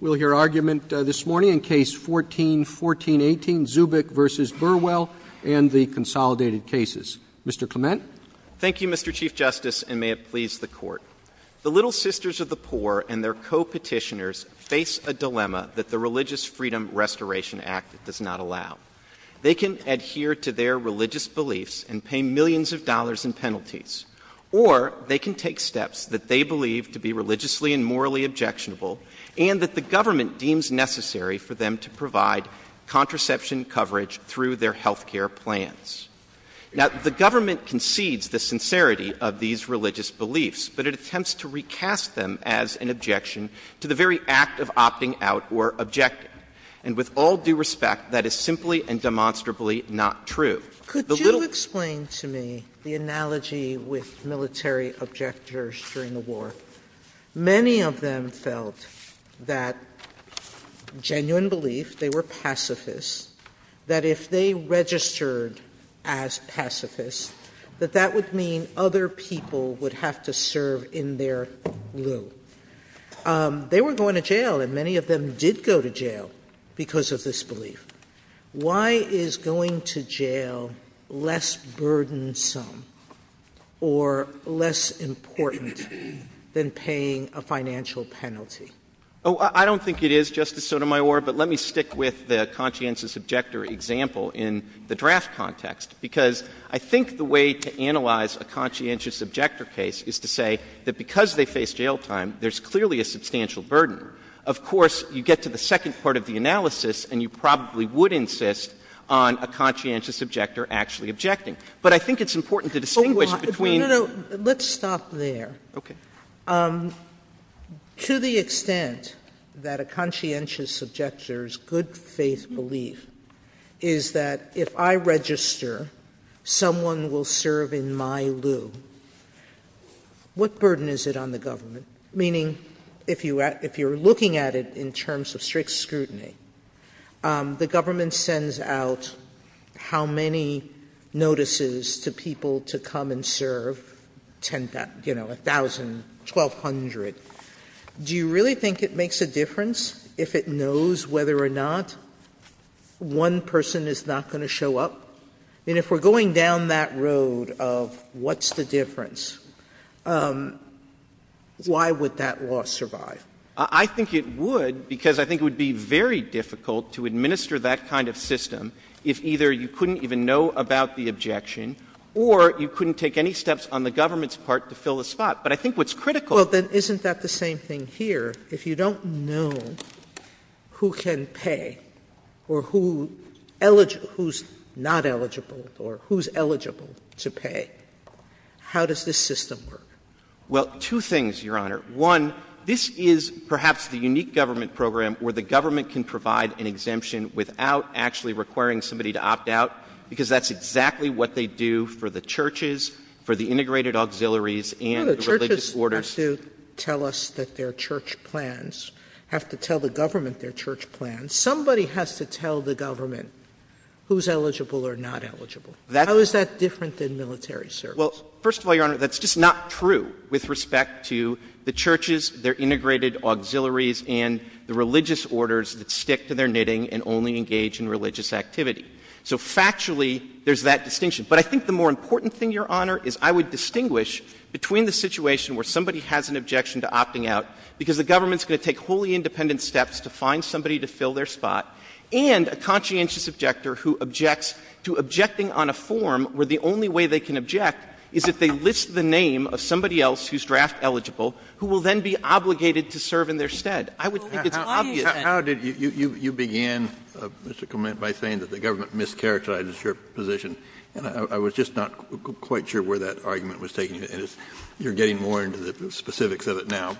We'll hear argument this morning in Case 14-1418, Zubik v. Burwell and the Consolidated Cases. Mr. Clement? Thank you, Mr. Chief Justice, and may it please the Court. The Little Sisters of the Poor and their co-petitioners face a dilemma that the Religious Freedom Restoration Act does not allow. They can adhere to their religious beliefs and pay millions of dollars in penalties, or they can take steps that they believe to be religiously and morally objectionable and that the government deems necessary for them to provide contraception coverage through their health care plans. The government concedes the sincerity of these religious beliefs, but it attempts to recast them as an objection to the very act of opting out or objecting. And with all due respect, that is simply and demonstrably not true. Could you explain to me the analogy with military objectors during the war? Many of them felt that genuine belief, they were pacifists, that if they registered as pacifists, that that would mean other people would have to serve in their will. They were going to jail, and many of them did go to jail because of this belief. Why is going to jail less burdensome or less important than paying a financial penalty? Oh, I don't think it is, Justice Sotomayor, but let me stick with the conscientious objector example in the draft context, because I think the way to analyze a conscientious objector case is to say that because they face jail time, there's clearly a substantial burden. Of course, you get to the second part of the analysis, and you probably would insist on a conscientious objector actually objecting. But I think it's important to distinguish between... Let's stop there. To the extent that a conscientious objector's good faith belief is that if I register, someone will serve in my loo, what burden is it on the government? Meaning, if you're looking at it in terms of strict scrutiny, the government sends out how many notices to people to come and serve, you know, 1,000, 1,200. Do you really think it makes a difference if it knows whether or not one person is not going to show up? And if we're going down that road of what's the difference, why would that law survive? I think it would, because I think it would be very difficult to administer that kind of system if either you couldn't even know about the objection, or you couldn't take any steps on the government's part to fill a spot. But I think what's critical... Well, then isn't that the same thing here? If you don't know who can pay, or who's not eligible, or who's eligible to pay, how does this system work? Well, two things, Your Honor. One, this is perhaps the unique government program where the government can provide an exemption without actually requiring somebody to opt out, because that's exactly what they do for the churches, for the integrated auxiliaries, and the religious order. Somebody has to tell us that their church plans, have to tell the government their church plans. Somebody has to tell the government who's eligible or not eligible. How is that different than military service? Well, first of all, Your Honor, that's just not true with respect to the churches, their integrated auxiliaries, and the religious orders that stick to their knitting and only engage in religious activity. So factually, there's that distinction. But I think the more important thing, Your Honor, is I would distinguish between the fact that somebody has an objection to opting out, because the government's going to take wholly independent steps to find somebody to fill their spot, and a conscientious objector who objects to objecting on a form where the only way they can object is if they list the name of somebody else who's draft eligible, who will then be obligated to serve in their stead. I would think it's obvious. How did you begin, Mr. Clement, by saying that the government mischaracterized your position? I was just not quite sure where that argument was taking it. You're getting more into the specifics of it now.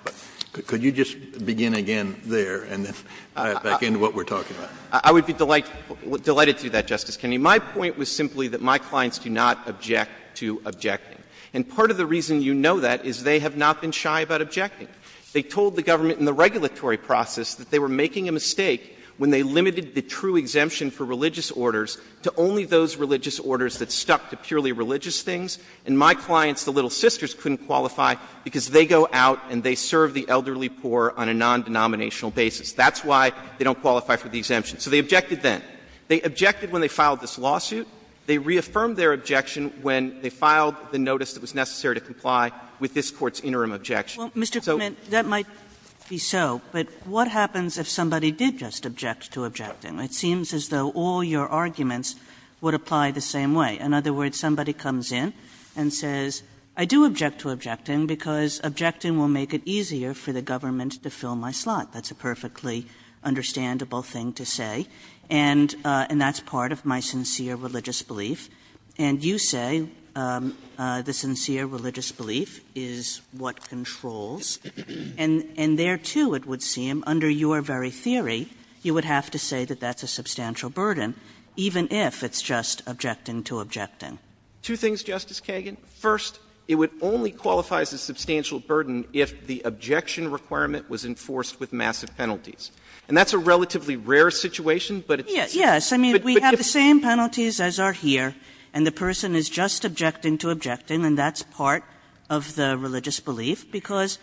But could you just begin again there and back into what we're talking about? I would be delighted to do that, Justice Kennedy. My point was simply that my clients do not object to objecting. And part of the reason you know that is they have not been shy about objecting. They told the government in the regulatory process that they were making a mistake when they limited the true exemption for religious orders to only those religious orders that things. And my clients, the Little Sisters, couldn't qualify because they go out and they serve the elderly poor on a non-denominational basis. That's why they don't qualify for the exemption. So they objected then. They objected when they filed this lawsuit. They reaffirmed their objection when they filed the notice that was necessary to comply with this Court's interim objection. Well, Mr. Clement, that might be so, but what happens if somebody did just object to objecting? It seems as though all your arguments would apply the same way. In other words, somebody comes in and says, I do object to objecting because objecting will make it easier for the government to fill my slot. That's a perfectly understandable thing to say. And that's part of my sincere religious belief. And you say the sincere religious belief is what controls. And there too, it would seem, under your very theory, you would have to say that that's a substantial burden, even if it's just objecting to objecting. Two things, Justice Kagan. First, it would only qualify as a substantial burden if the objection requirement was enforced with massive penalties. And that's a relatively rare situation, but it's... Yes. I mean, we have the same penalties as are here, and the person is just objecting to objecting, and that's part of the religious belief, because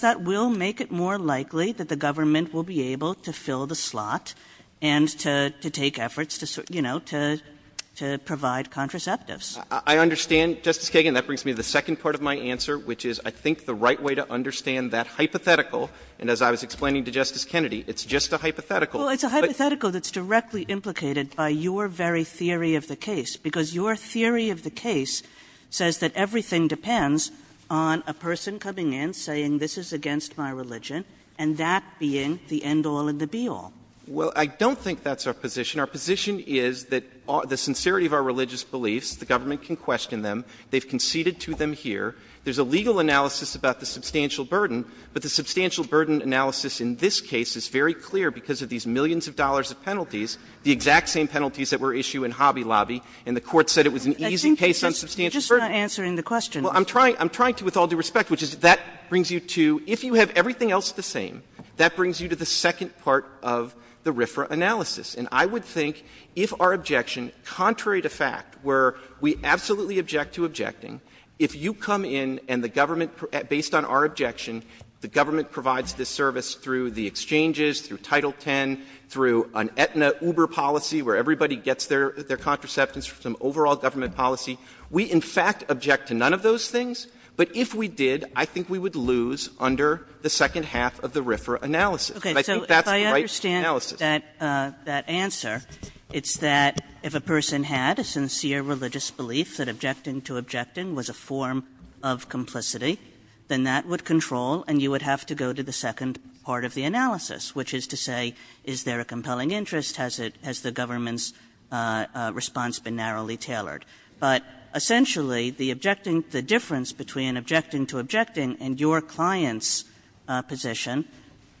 that will make it more likely that the government will be able to fill the slot and to take efforts to provide contraceptives. I understand, Justice Kagan. That brings me to the second part of my answer, which is I think the right way to understand that hypothetical, and as I was explaining to Justice Kennedy, it's just a hypothetical. Well, it's a hypothetical that's directly implicated by your very theory of the case, because your theory of the case says that everything depends on a person coming in saying this is against my religion, and that being the end all and the be all. Well, I don't think that's our position. Our position is that the sincerity of our religious beliefs, the government can question them, they've conceded to them here, there's a legal analysis about the substantial burden, but the substantial burden analysis in this case is very clear because of these millions of dollars of penalties, the exact same penalties that were issued in Hobby Lobby, and the court said it was an easy case on substantial burden. I think you're just not answering the question. Well, I'm trying to with all due respect, which is that brings you to, if you have everything else the same, that brings you to the second part of the RFRA analysis, and I would think if our objection, contrary to fact, where we absolutely object to objecting, if you come in and the government, based on our objection, the government provides this service through the exchanges, through Title X, through an Aetna Uber policy where everybody gets their things, but if we did, I think we would lose under the second half of the RFRA analysis. Okay, so if I understand that answer, it's that if a person had a sincere religious belief that objecting to objecting was a form of complicity, then that would control, and you would have to go to the second part of the analysis, which is to say, is there a compelling interest, has the government's response been narrowly tailored? But essentially, the objecting, the difference between objecting to objecting and your client's position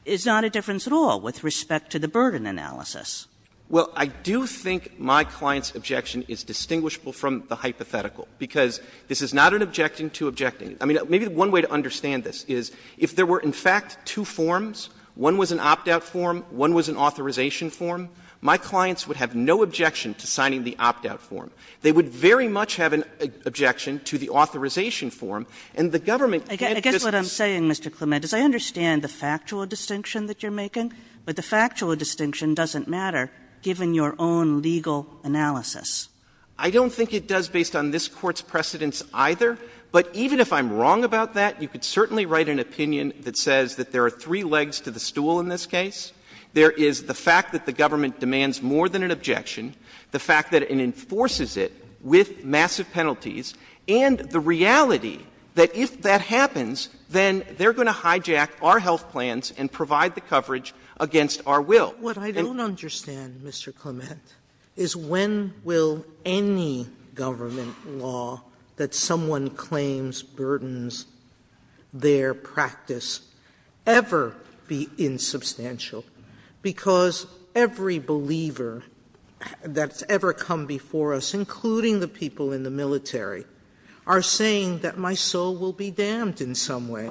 is not a difference at all with respect to the burden analysis. Well, I do think my client's objection is distinguishable from the hypothetical, because this is not an objecting to objecting. I mean, maybe one way to understand this is if there were, in fact, two forms, one was an opt-out form, one was an authorization form, my clients would have no objection to signing the opt-out form. They would very much have an objection to the authorization form, and the government can't just... I guess what I'm saying, Mr. Clement, is I understand the factual distinction that you're making, but the factual distinction doesn't matter, given your own legal analysis. I don't think it does, based on this Court's precedence, either, but even if I'm wrong about that, you could certainly write an opinion that says that there are three legs to the case, the fact that it wasn't an objection, the fact that it enforces it with massive penalties, and the reality that if that happens, then they're going to hijack our health plans and provide the coverage against our will. What I don't understand, Mr. Clement, is when will any government law that someone claims burdens their practice ever be insubstantial, because every believer, every believer in that's ever come before us, including the people in the military, are saying that my soul will be damned in some way.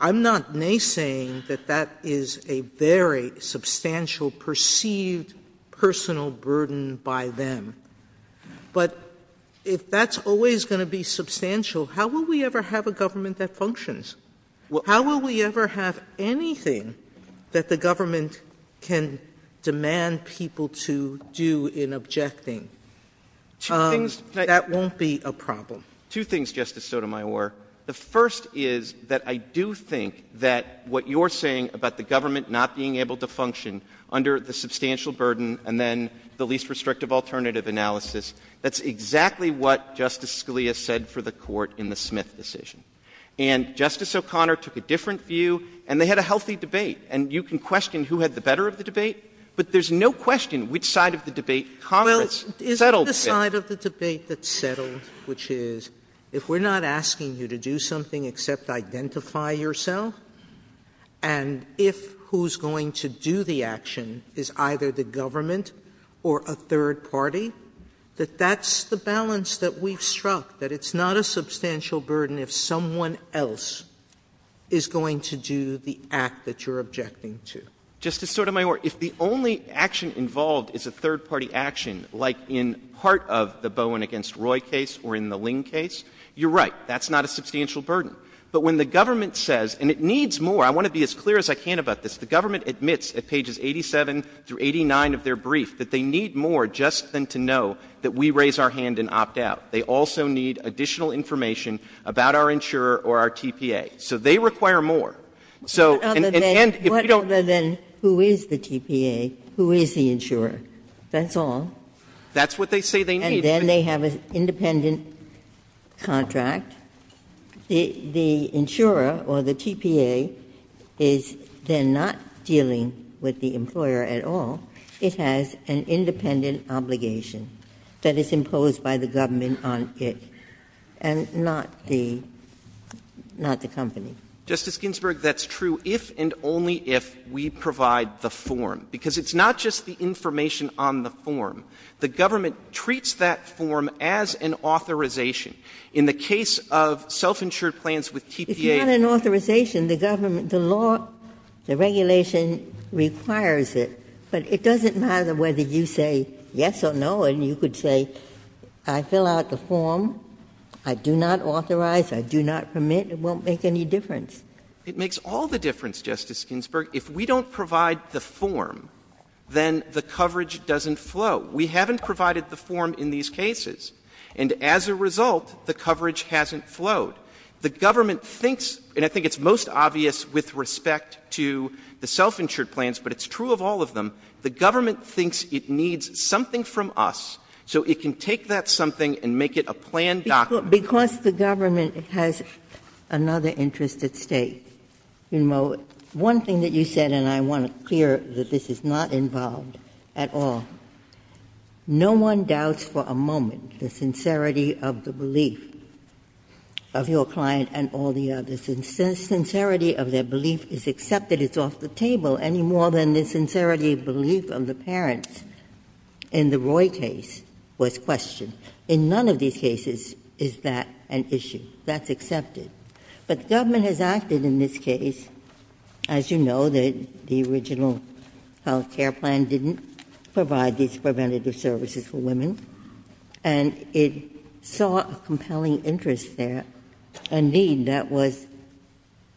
I'm not naysaying that that is a very substantial perceived personal burden by them, but if that's always going to be substantial, how will we ever have a government that functions? How will we ever have anything that the government can demand people to do in objecting? That won't be a problem. Two things, Justice Sotomayor. The first is that I do think that what you're saying about the government not being able to function under the substantial burden and then the least restrictive alternative analysis, that's exactly what Justice Scalia said for the Court in the Smith decision. And Justice O'Connor took a different view, and they had a healthy debate, and you can question who had the better of the debate, but there's no question which side of the debate Congress settled. Well, it's the side of the debate that's settled, which is if we're not asking you to do something except identify yourself, and if who's going to do the action is either the government or a third party, that that's the balance that we've struck, that it's not a substantial burden if someone else is going to do the act that you're objecting to. Justice Sotomayor, if the only action involved is a third party action, like in part of the Bowen against Roy case or in the Ling case, you're right, that's not a substantial burden. But when the government says, and it needs more, I want to be as clear as I can about this, the government admits at pages 87 through 89 of their brief that they need more just than to know that we raise our hand and opt out. They also need additional information about our insurer or our TPA. So they require more. So and if you don't... But other than who is the TPA, who is the insurer? That's all. That's what they say they need. And then they have an independent contract. The insurer or the TPA is then not dealing with the employer at all. It has an independent obligation that is imposed by the government on it and not the company. Justice Ginsburg, that's true if and only if we provide the form, because it's not just the information on the form. The government treats that form as an authorization. In the case of self-insured plans with TPA... It's not an authorization. The government, the law, the regulation requires it, but it doesn't matter whether you say yes or no. And you could say, I fill out the form, I do not authorize, I do not permit, it won't make any difference. It makes all the difference, Justice Ginsburg. If we don't provide the form, then the coverage doesn't flow. We haven't provided the form in these cases. And as a result, the coverage hasn't flowed. The government thinks, and I think it's most obvious with respect to the self-insured plans, but it's true of all of them, the government thinks it needs something from us so it can take that something and make it a plan document. Because the government has another interest at stake. One thing that you said, and I want to clear that this is not involved at all. No one doubts for a moment the sincerity of the belief of your client and all the others. And since sincerity of their belief is accepted, it's off the table any more than the sincerity of belief of the parents in the Roy case was questioned. In none of these cases is that an issue. That's accepted. But the government has acted in this case, as you know, the original self-care plan didn't provide these preventative services for women. And it saw a compelling interest there, a need that was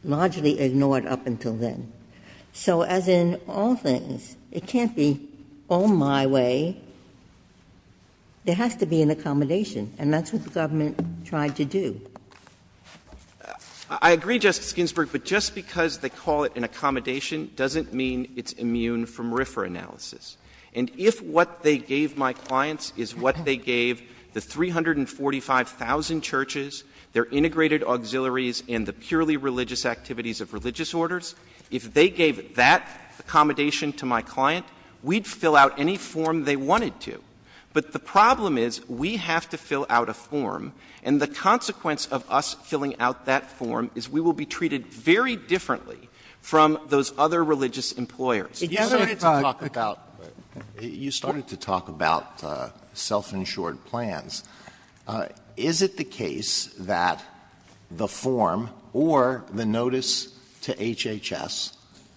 largely ignored up until then. So as in all things, it can't be on my way. There has to be an accommodation. And that's what the government tried to do. I agree, Justice Ginsburg, but just because they call it an accommodation doesn't mean it's immune from RFRA analysis. And if what they gave my clients is what they gave the 345,000 churches, their integrated auxiliaries and the purely religious activities of religious orders, if they gave that accommodation to my client, we'd fill out any form they wanted to. But the problem is we have to fill out a form. And the consequence of us filling out that form is we will be treated very differently from those other religious employers. You started to talk about self-insured plans. Is it the case that the form or the notice to HHS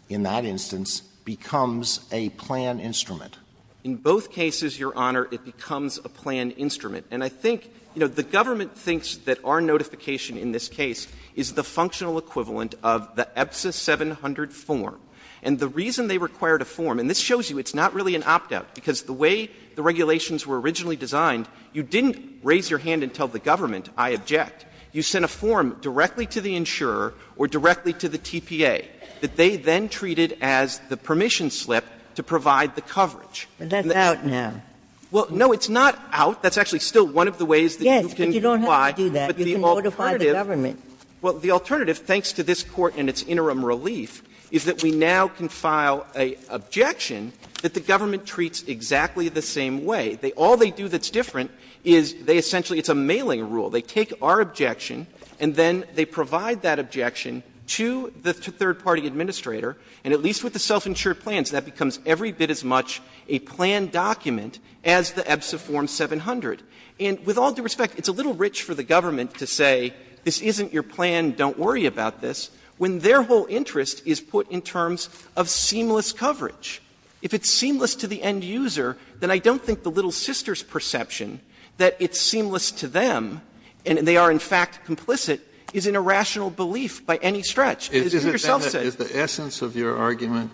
in that instance becomes a plan instrument? In both cases, Your Honor, it becomes a plan instrument. And I think, you know, the government thinks that our notification in this case is the 700 form. And the reason they required a form, and this shows you it's not really an opt-out because the way the regulations were originally designed, you didn't raise your hand and tell the government, I object. You sent a form directly to the insurer or directly to the TPA that they then treated as the permission slip to provide the coverage. But that's out now. Well, no, it's not out. That's actually still one of the ways that you can apply. Yes, but you don't have to do that. You can notify the government. Well, the alternative, thanks to this Court and its interim relief, is that we now can file an objection that the government treats exactly the same way. All they do that's different is they essentially — it's a mailing rule. They take our objection, and then they provide that objection to the third-party administrator and, at least with the self-insured plans, that becomes every bit as much a planned document as the EBSA form 700. With all due respect, it's a little rich for the government to say, this isn't your plan, don't worry about this, when their whole interest is put in terms of seamless coverage. If it's seamless to the end user, then I don't think the Little Sisters' perception that it's seamless to them, and they are in fact complicit, is an irrational belief by any stretch. Is the essence of your argument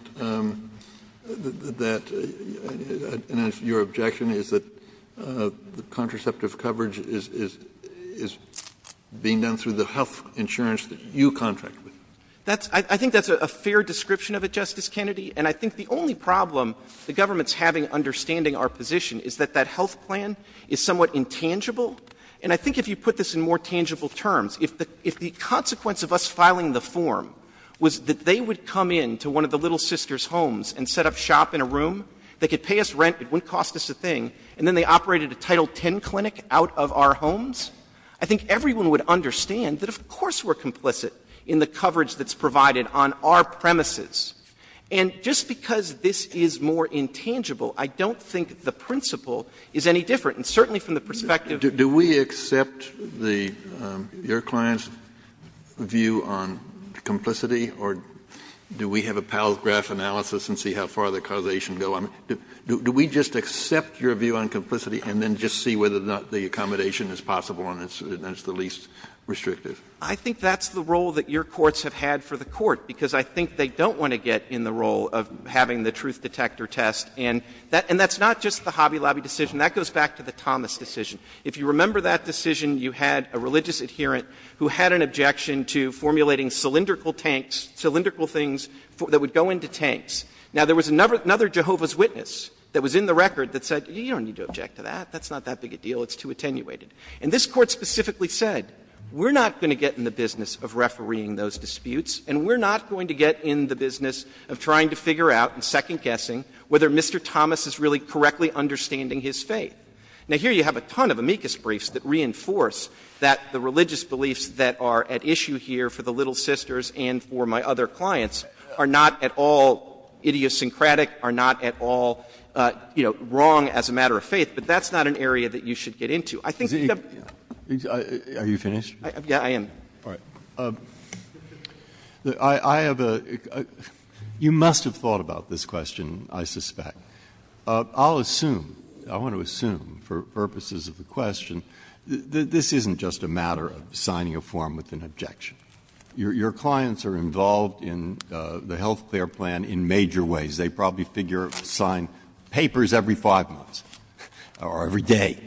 that your objection is that contraceptive coverage is being done through the health insurance that you contract with? I think that's a fair description of it, Justice Kennedy, and I think the only problem the government's having understanding our position is that that health plan is somewhat intangible. And I think if you put this in more tangible terms, if the consequence of us filing the form was that they would come in to one of the Little Sisters' homes and set up shop in a room, they could pay us rent, it wouldn't cost us a thing, and then they operated a Title X clinic out of our homes, I think everyone would understand that, of course, we're complicit in the coverage that's provided on our premises. And just because this is more intangible, I don't think the principle is any different. Do we accept your client's view on complicity, or do we have a pallet graph analysis and see how far the causation goes? Do we just accept your view on complicity and then just see whether or not the accommodation is possible and it's the least restrictive? I think that's the role that your courts have had for the court, because I think they don't want to get in the role of having the truth detector test, and that's not just the Hobby or Thomas decision. If you remember that decision, you had a religious adherent who had an objection to formulating cylindrical tanks, cylindrical things that would go into tanks. Now there was another Jehovah's Witness that was in the record that said, you don't need to object to that, that's not that big a deal, it's too attenuated. And this court specifically said, we're not going to get in the business of refereeing those disputes, and we're not going to get in the business of trying to figure out and Now here you have a ton of amicus briefs that reinforce that the religious beliefs that are at issue here for the Little Sisters and for my other clients are not at all idiosyncratic, are not at all wrong as a matter of faith, but that's not an area that you should get into. Are you finished? Yeah, I am. You must have thought about this question, I suspect. I'll assume, I want to assume, for purposes of the question, that this isn't just a matter of signing a form with an objection. Your clients are involved in the health care plan in major ways. They probably figure, sign papers every five months, or every day,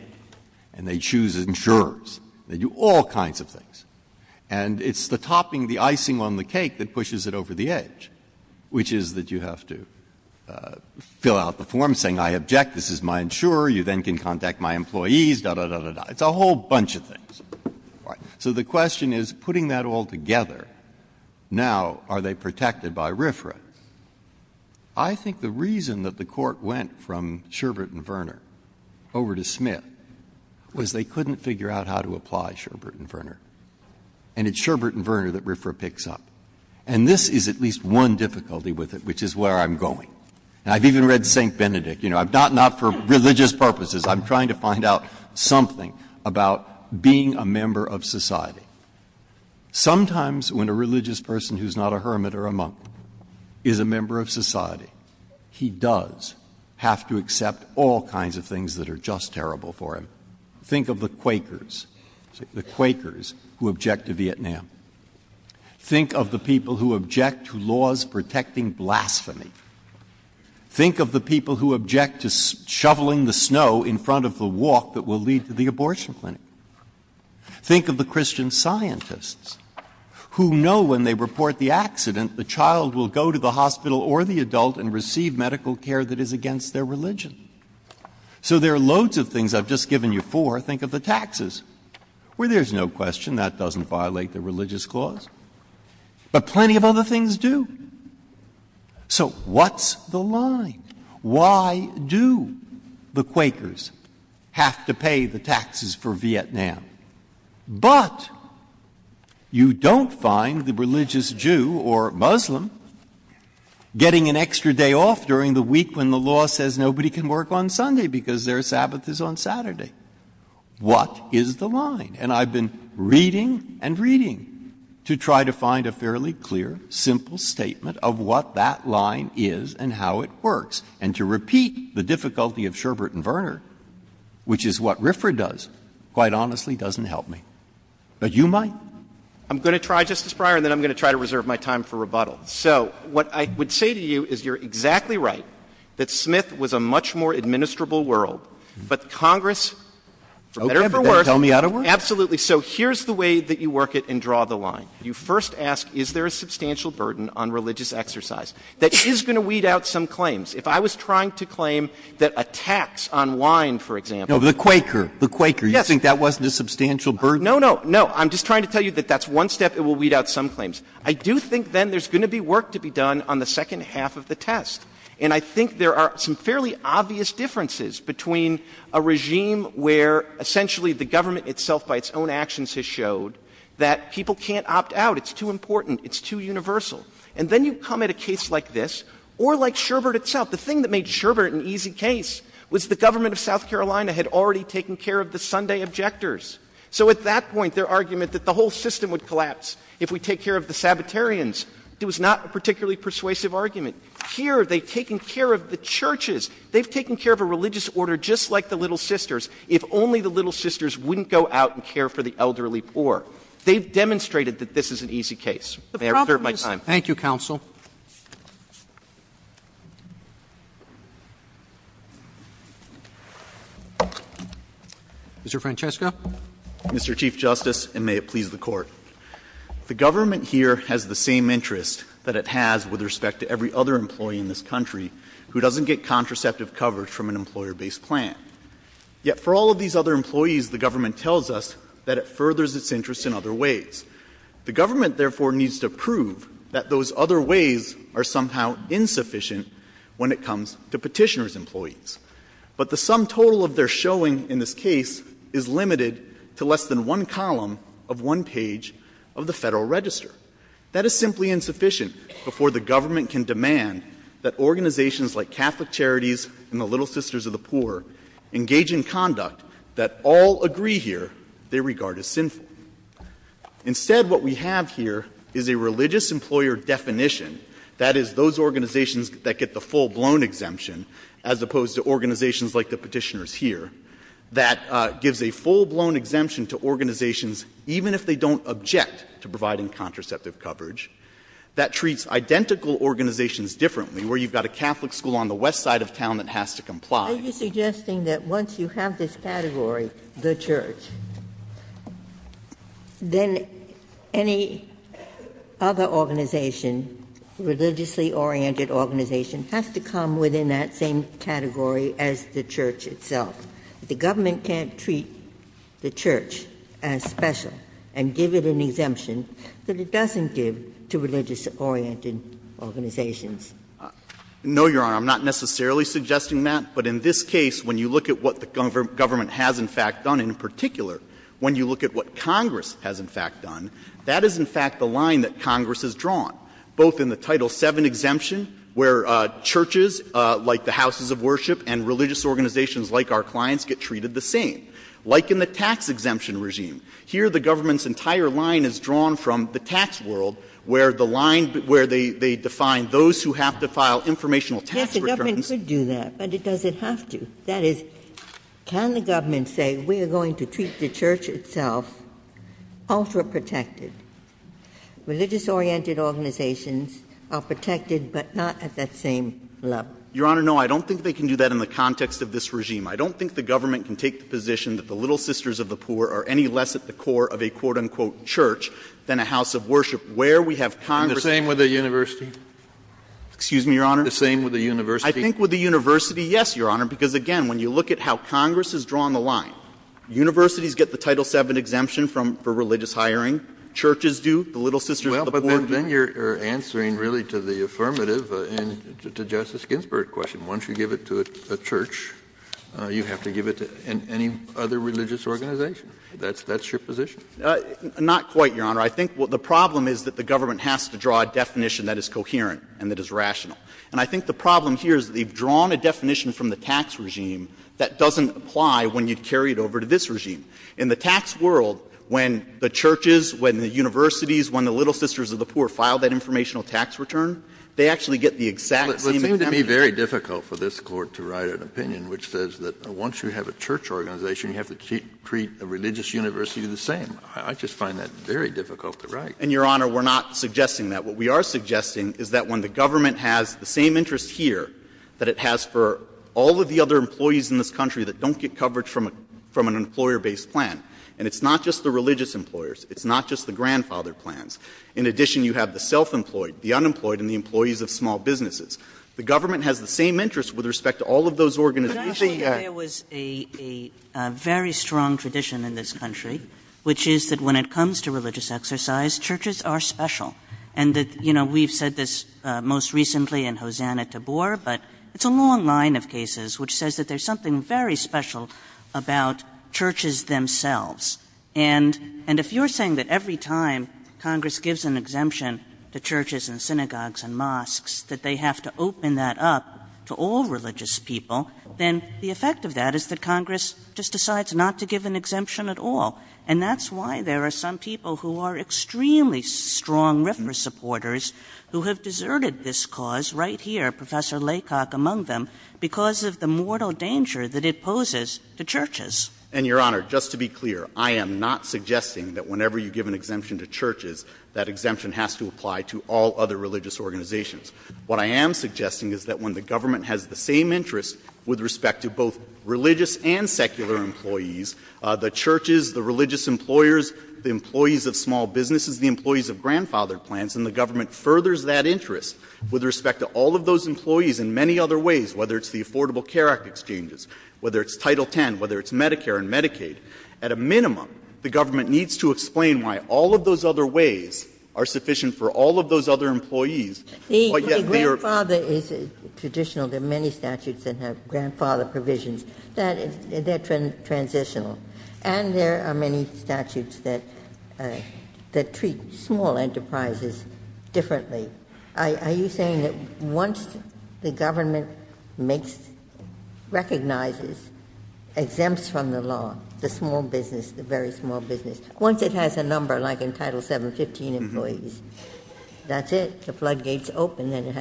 and they choose insurers. They do all kinds of things. And it's the topping, the icing on the cake that pushes it over the edge, which is that you have to fill out the form saying, I object, this is my insurer. You then can contact my employees, da-da-da-da-da, it's a whole bunch of things. So the question is, putting that all together, now are they protected by RFRA? I think the reason that the court went from Sherbert and Verner over to Smith was they couldn't figure out how to apply Sherbert and Verner, and it's Sherbert and Verner that is where I'm going. And I've even read St. Benedict, you know, not for religious purposes, I'm trying to find out something about being a member of society. Sometimes when a religious person who's not a hermit or a monk is a member of society, he does have to accept all kinds of things that are just terrible for him. Think of the Quakers, the Quakers who object to Vietnam. Think of the people who object to laws protecting blasphemy. Think of the people who object to shoveling the snow in front of the walk that will lead to the abortion clinic. Think of the Christian scientists who know when they report the accident, the child will go to the hospital or the adult and receive medical care that is against their religion. So there are loads of things I've just given you four, think of the taxes, where there's no question that doesn't violate the religious clause, but plenty of other things do. So what's the line? Why do the Quakers have to pay the taxes for Vietnam, but you don't find the religious Jew or Muslim getting an extra day off during the week when the law says nobody can work on Sunday because their Sabbath is on Saturday. What is the line? And I've been reading and reading to try to find a fairly clear, simple statement of what that line is and how it works. And to repeat the difficulty of Sherbert and Verner, which is what Riffra does, quite honestly doesn't help me. But you might. I'm going to try, Justice Breyer, and then I'm going to try to reserve my time for rebuttal. So what I would say to you is you're exactly right, that Smith was a much more administrable world, but Congress is better for work. Absolutely. So here's the way that you work it and draw the line. You first ask, is there a substantial burden on religious exercise that is going to weed out some claims? If I was trying to claim that a tax on wine, for example, the Quaker, the Quaker, you think that wasn't a substantial burden? No, no, no. I'm just trying to tell you that that's one step. It will weed out some claims. I do think then there's going to be work to be done on the second half of the test. And I think there are some fairly obvious differences between a regime where essentially the government itself by its own actions has showed that people can't opt out. It's too important. It's too universal. And then you come at a case like this or like Sherbert itself. The thing that made Sherbert an easy case was the government of South Carolina had already taken care of the Sunday objectors. So at that point, their argument that the whole system would collapse if we take care of the Sabbatarians, it was not a particularly persuasive argument. Here they've taken care of the churches. They've taken care of a religious order just like the Little Sisters. If only the Little Sisters wouldn't go out and care for the elderly poor. They've demonstrated that this is an easy case. And I reserve my time. Thank you, counsel. Mr. Francesco? Mr. Chief Justice, and may it please the Court. The government here has the same interests that it has with respect to every other employee in this country who doesn't get contraceptive coverage from an employer-based plan. Yet for all of these other employees, the government tells us that it furthers its interests in other ways. The government, therefore, needs to prove that those other ways are somehow insufficient when it comes to petitioner's employees. But the sum total of their showing in this case is limited to less than one column of one page of the Federal Register. That is simply insufficient before the government can demand that organizations like Catholic Sisters of the Poor engage in conduct that all agree here they regard as sinful. Instead, what we have here is a religious employer definition, that is, those organizations that get the full-blown exemption, as opposed to organizations like the petitioners here, that gives a full-blown exemption to organizations even if they don't object to providing contraceptive coverage. That treats identical organizations differently, where you've got a Catholic school on the back and plot. Are you suggesting that once you have this category, the church, then any other organization, religiously-oriented organization, has to come within that same category as the church itself? The government can't treat the church as special and give it an exemption that it doesn't give to religious-oriented organizations. No, Your Honor. I'm not necessarily suggesting that, but in this case, when you look at what the government has, in fact, done, in particular, when you look at what Congress has, in fact, done, that is, in fact, the line that Congress has drawn, both in the Title VII exemption, where churches like the houses of worship and religious organizations like our clients get treated the same, like in the tax-exemption regime. Here the government's entire line is drawn from the tax world, where the line, where they define those who have to file informational tax returns. Yes, the government could do that, but it doesn't have to. That is, can the government say, we are going to treat the church itself ultra-protected? Religious-oriented organizations are protected, but not at that same level. Your Honor, no. I don't think they can do that in the context of this regime. I don't think the government can take the position that the Little Sisters of the Poor are any less at the core of a, quote-unquote, church than a house of worship, where we have Congress. The same with the university? Excuse me, Your Honor? The same with the university? I think with the university, yes, Your Honor, because, again, when you look at how Congress has drawn the line, universities get the Title VII exemption for religious hiring. Churches do. The Little Sisters of the Poor do. Well, but then you're answering, really, to the affirmative and to Justice Ginsburg's question. Once you give it to a church, you have to give it to any other religious organization. That's your position? Not quite, Your Honor. I think the problem is that the government has to draw a definition that is coherent and that is rational. And I think the problem here is that they've drawn a definition from the tax regime that doesn't apply when you carry it over to this regime. In the tax world, when the churches, when the universities, when the Little Sisters of the Poor file that informational tax return, they actually get the exact same exemption. It would seem to be very difficult for this Court to write an opinion which says that once you have a church organization, you have to treat a religious university the same. I just find that very difficult to write. And, Your Honor, we're not suggesting that. What we are suggesting is that when the government has the same interest here that it has for all of the other employees in this country that don't get coverage from an employer-based plan, and it's not just the religious employers, it's not just the grandfather plans. In addition, you have the self-employed, the unemployed, and the employees of small businesses. The government has the same interest with respect to all of those organizations. Your Honor, I think there was a very strong tradition in this country, which is that when it comes to religious exercise, churches are special. And that, you know, we've said this most recently in Hosein at Tabor, but it's a long line of cases which says that there's something very special about churches themselves. And if you're saying that every time Congress gives an exemption to churches and synagogues and mosques, that they have to open that up to all religious people, then the effect of that is that Congress just decides not to give an exemption at all. And that's why there are some people who are extremely strong ripper supporters who have deserted this cause right here, Professor Laycock among them, because of the mortal danger that it poses to churches. And Your Honor, just to be clear, I am not suggesting that whenever you give an exemption to churches, that exemption has to apply to all other religious organizations. What I am suggesting is that when the government has the same interest with respect to both religious and secular employees, the churches, the religious employers, the employees of small businesses, the employees of grandfather plants, and the government furthers that interest with respect to all of those employees in many other ways, whether it's the Affordable Care Act exchanges, whether it's Title X, whether it's Medicare and Medicaid, at a minimum, the government needs to explain why all of those other ways are sufficient for all of those other employees. The grandfather is traditional, there are many statutes that have grandfather provisions that are transitional. And there are many statutes that treat small enterprises differently. Are you saying that once the government makes, recognizes, exempts from the law, the small business, the very small business, once it has a number, like in Title VII, 15 employees, that's it, the floodgates open, and it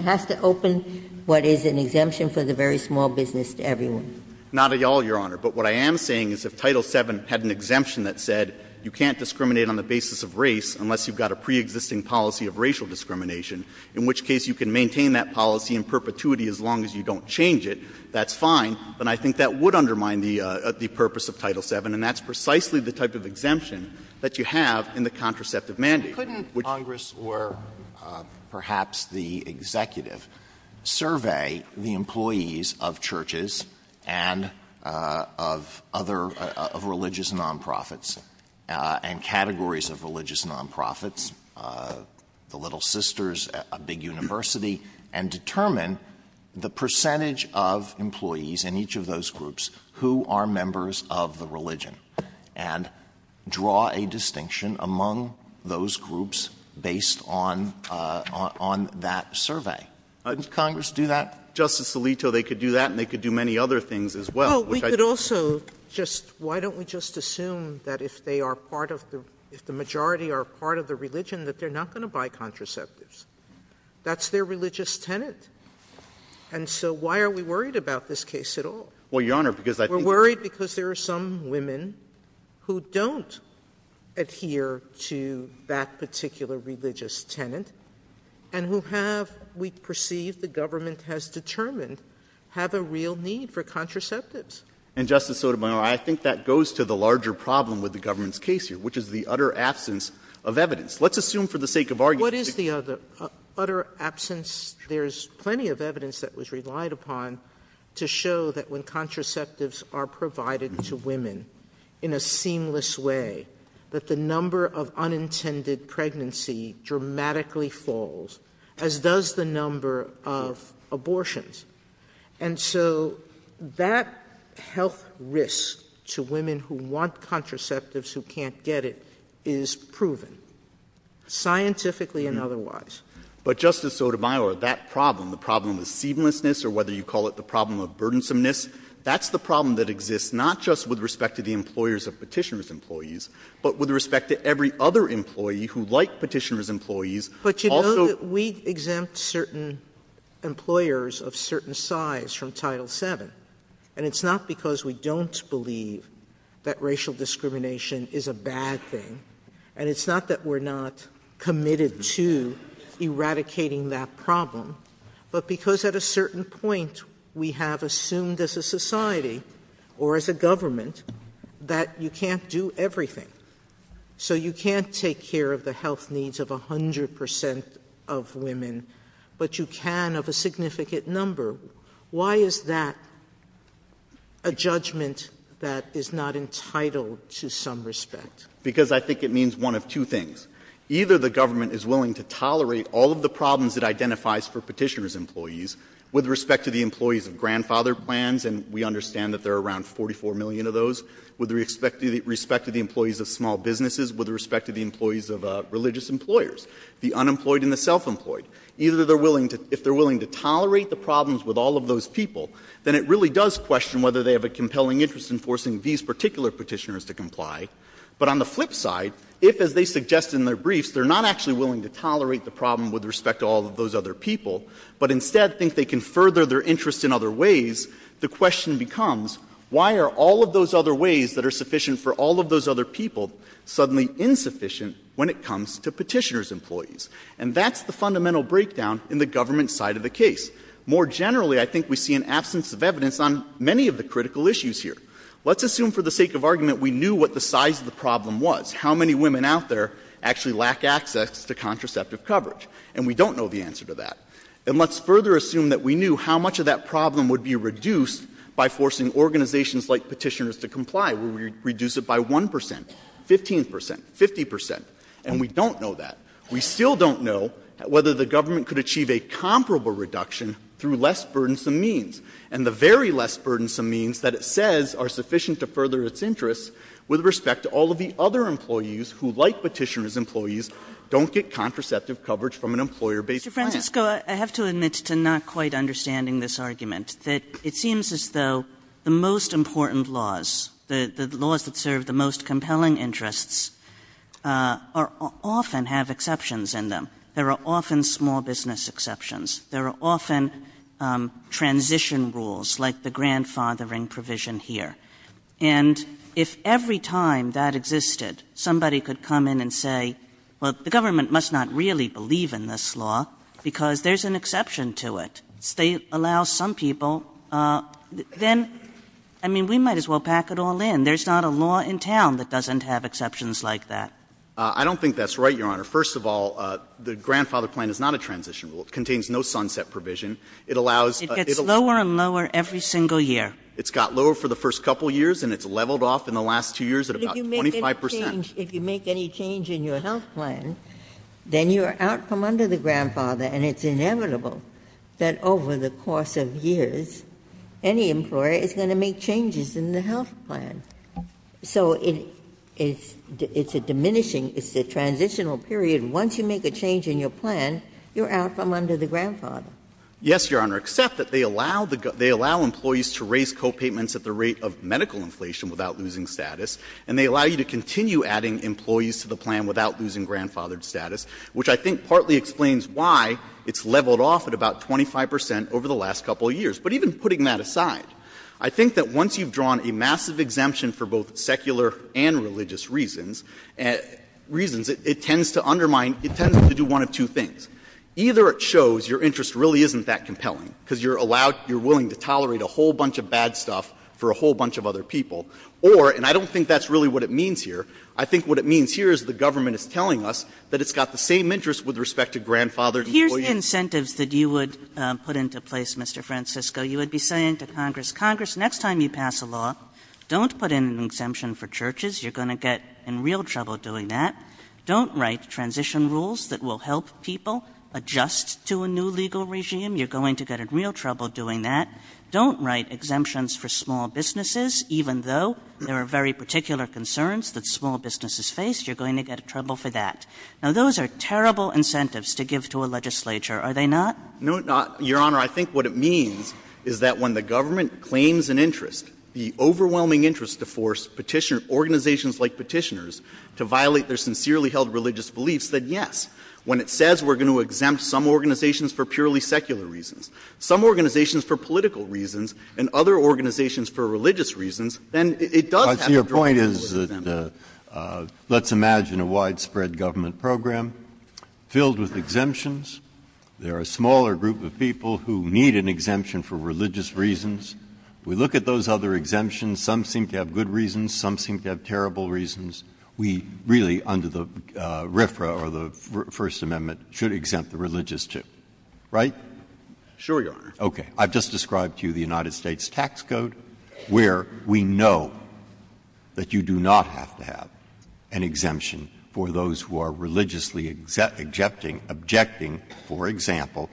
has to open what is an exemption for the very small business to everyone? Not at all, Your Honor. But what I am saying is if Title VII had an exemption that said you can't discriminate on the basis of race unless you've got a pre-existing policy of racial discrimination, in which case you can maintain that policy in perpetuity as long as you don't change it, that's fine. But I think that would undermine the purpose of Title VII, and that's precisely the type of exemption that you have in the contraceptive mandate. Couldn't Congress or perhaps the executive survey the employees of churches and of other religious nonprofits and categories of religious nonprofits, the Little Sisters, a big university, and determine the percentage of employees in each of those groups who are members of the religion, and draw a distinction among those groups based on that survey? Doesn't Congress do that? Justice Alito, they could do that, and they could do many other things as well. Well, we could also just, why don't we just assume that if they are part of the, if the majority are part of the religion, that they're not going to buy contraceptives. That's their religious tenet. And so why are we worried about this case at all? Well, Your Honor, because I think... We're worried because there are some women who don't adhere to that particular religious tenet and who have, we perceive the government has determined, have a real need for contraceptives. And Justice Sotomayor, I think that goes to the larger problem with the government's case here, which is the utter absence of evidence. Let's assume for the sake of argument... What is the utter absence? There's plenty of evidence that was relied upon to show that when contraceptives are provided to women in a seamless way, that the number of unintended pregnancy dramatically falls, as does the number of abortions. And so that health risk to women who want contraceptives who can't get it is proven. Scientifically and otherwise. But Justice Sotomayor, that problem, the problem of seamlessness, or whether you call it the problem of burdensomeness, that's the problem that exists not just with respect to the employers of petitioner's employees, but with respect to every other employee who like petitioner's employees also... But you know that we exempt certain employers of certain size from Title VII. And it's not because we don't believe that racial discrimination is a bad thing. And it's not that we're not committed to eradicating that problem, but because at a certain point we have assumed as a society, or as a government, that you can't do everything. So you can't take care of the health needs of 100% of women, but you can of a significant number. Why is that a judgment that is not entitled to some respect? Because I think it means one of two things. Either the government is willing to tolerate all of the problems it identifies for petitioner's employees with respect to the employees of grandfather plans, and we understand that there are around 44 million of those, with respect to the employees of small businesses, with respect to the employees of religious employers, the unemployed and the self-employed. Either they're willing to... If they're willing to tolerate the problems with all of those people, then it really does question whether they have a compelling interest in forcing these particular petitioners to comply. But on the flip side, if, as they suggest in their briefs, they're not actually willing to tolerate the problem with respect to all of those other people, but instead think they can further their interest in other ways, the question becomes, why are all of those other ways that are sufficient for all of those other people suddenly insufficient when it comes to petitioner's employees? And that's the fundamental breakdown in the government side of the case. More generally, I think we see an absence of evidence on many of the critical issues here. Let's assume for the sake of argument we knew what the size of the problem was, how many women out there actually lack access to contraceptive coverage. And we don't know the answer to that. And let's further assume that we knew how much of that problem would be reduced by forcing organizations like petitioners to comply, would we reduce it by 1%, 15%, 50%? And we don't know that. We still don't know whether the government could achieve a comparable reduction through less burdensome means. And the very less burdensome means that it says are sufficient to further its interests with respect to all of the other employees who, like petitioner's employees, don't get contraceptive coverage from an employer-based plan. Mr. Francisco, I have to admit to not quite understanding this argument, that it seems as though the most important laws, the laws that serve the most compelling interests, are often have exceptions in them. There are often small business exceptions. There are often transition rules, like the grandfathering provision here. And if every time that existed, somebody could come in and say, well, the government must not really believe in this law because there's an exception to it. They allow some people, then, I mean, we might as well pack it all in. There's not a law in town that doesn't have exceptions like that. I don't think that's right, Your Honor. First of all, the grandfather plan is not a transition rule. It contains no sunset provision. It allows... It gets lower and lower every single year. It's got lower for the first couple of years, and it's leveled off in the last two years at about 25%. If you make any change in your health plan, then your outcome under the grandfather, and it's inevitable that over the course of years, any employer is going to make changes in the health plan. So it's a diminishing, it's a transitional period. And once you make a change in your plan, your outcome under the grandfather. Yes, Your Honor, except that they allow employees to raise copayments at the rate of medical inflation without losing status, and they allow you to continue adding employees to the plan without losing grandfathered status, which I think partly explains why it's leveled off at about 25% over the last couple of years. But even putting that aside, I think that once you've drawn a massive exemption for both secular and religious reasons, it tends to undermine, it tends to do one of two things. Either it shows your interest really isn't that compelling, because you're allowed, you're willing to tolerate a whole bunch of bad stuff for a whole bunch of other people, or, and I don't think that's really what it means here. I think what it means here is the government is telling us that it's got the same interests with respect to grandfathered employees. Here's incentives that you would put into place, Mr. Francisco. You would be saying to Congress, Congress, next time you pass a law, don't put in an exemption for churches, you're going to get in real trouble doing that. Don't write transition rules that will help people adjust to a new legal regime, you're going to get in real trouble doing that. Don't write exemptions for small businesses, even though there are very particular concerns that small businesses face, you're going to get in trouble for that. Now, those are terrible incentives to give to a legislature, are they not? No, Your Honor, I think what it means is that when the government claims an interest, the petitioners, organizations like petitioners, to violate their sincerely held religious beliefs, then yes, when it says we're going to exempt some organizations for purely secular reasons, some organizations for political reasons, and other organizations for religious reasons, then it does have a point is that let's imagine a widespread government program filled with exemptions. There are a smaller group of people who need an exemption for religious reasons. We look at those other exemptions, some seem to have good reasons, some seem to have terrible reasons. We really, under the RFRA or the First Amendment, should exempt the religious too, right? Sure, Your Honor. OK, I've just described to you the United States tax code, where we know that you do not have to have an exemption for those who are religiously objecting, for example,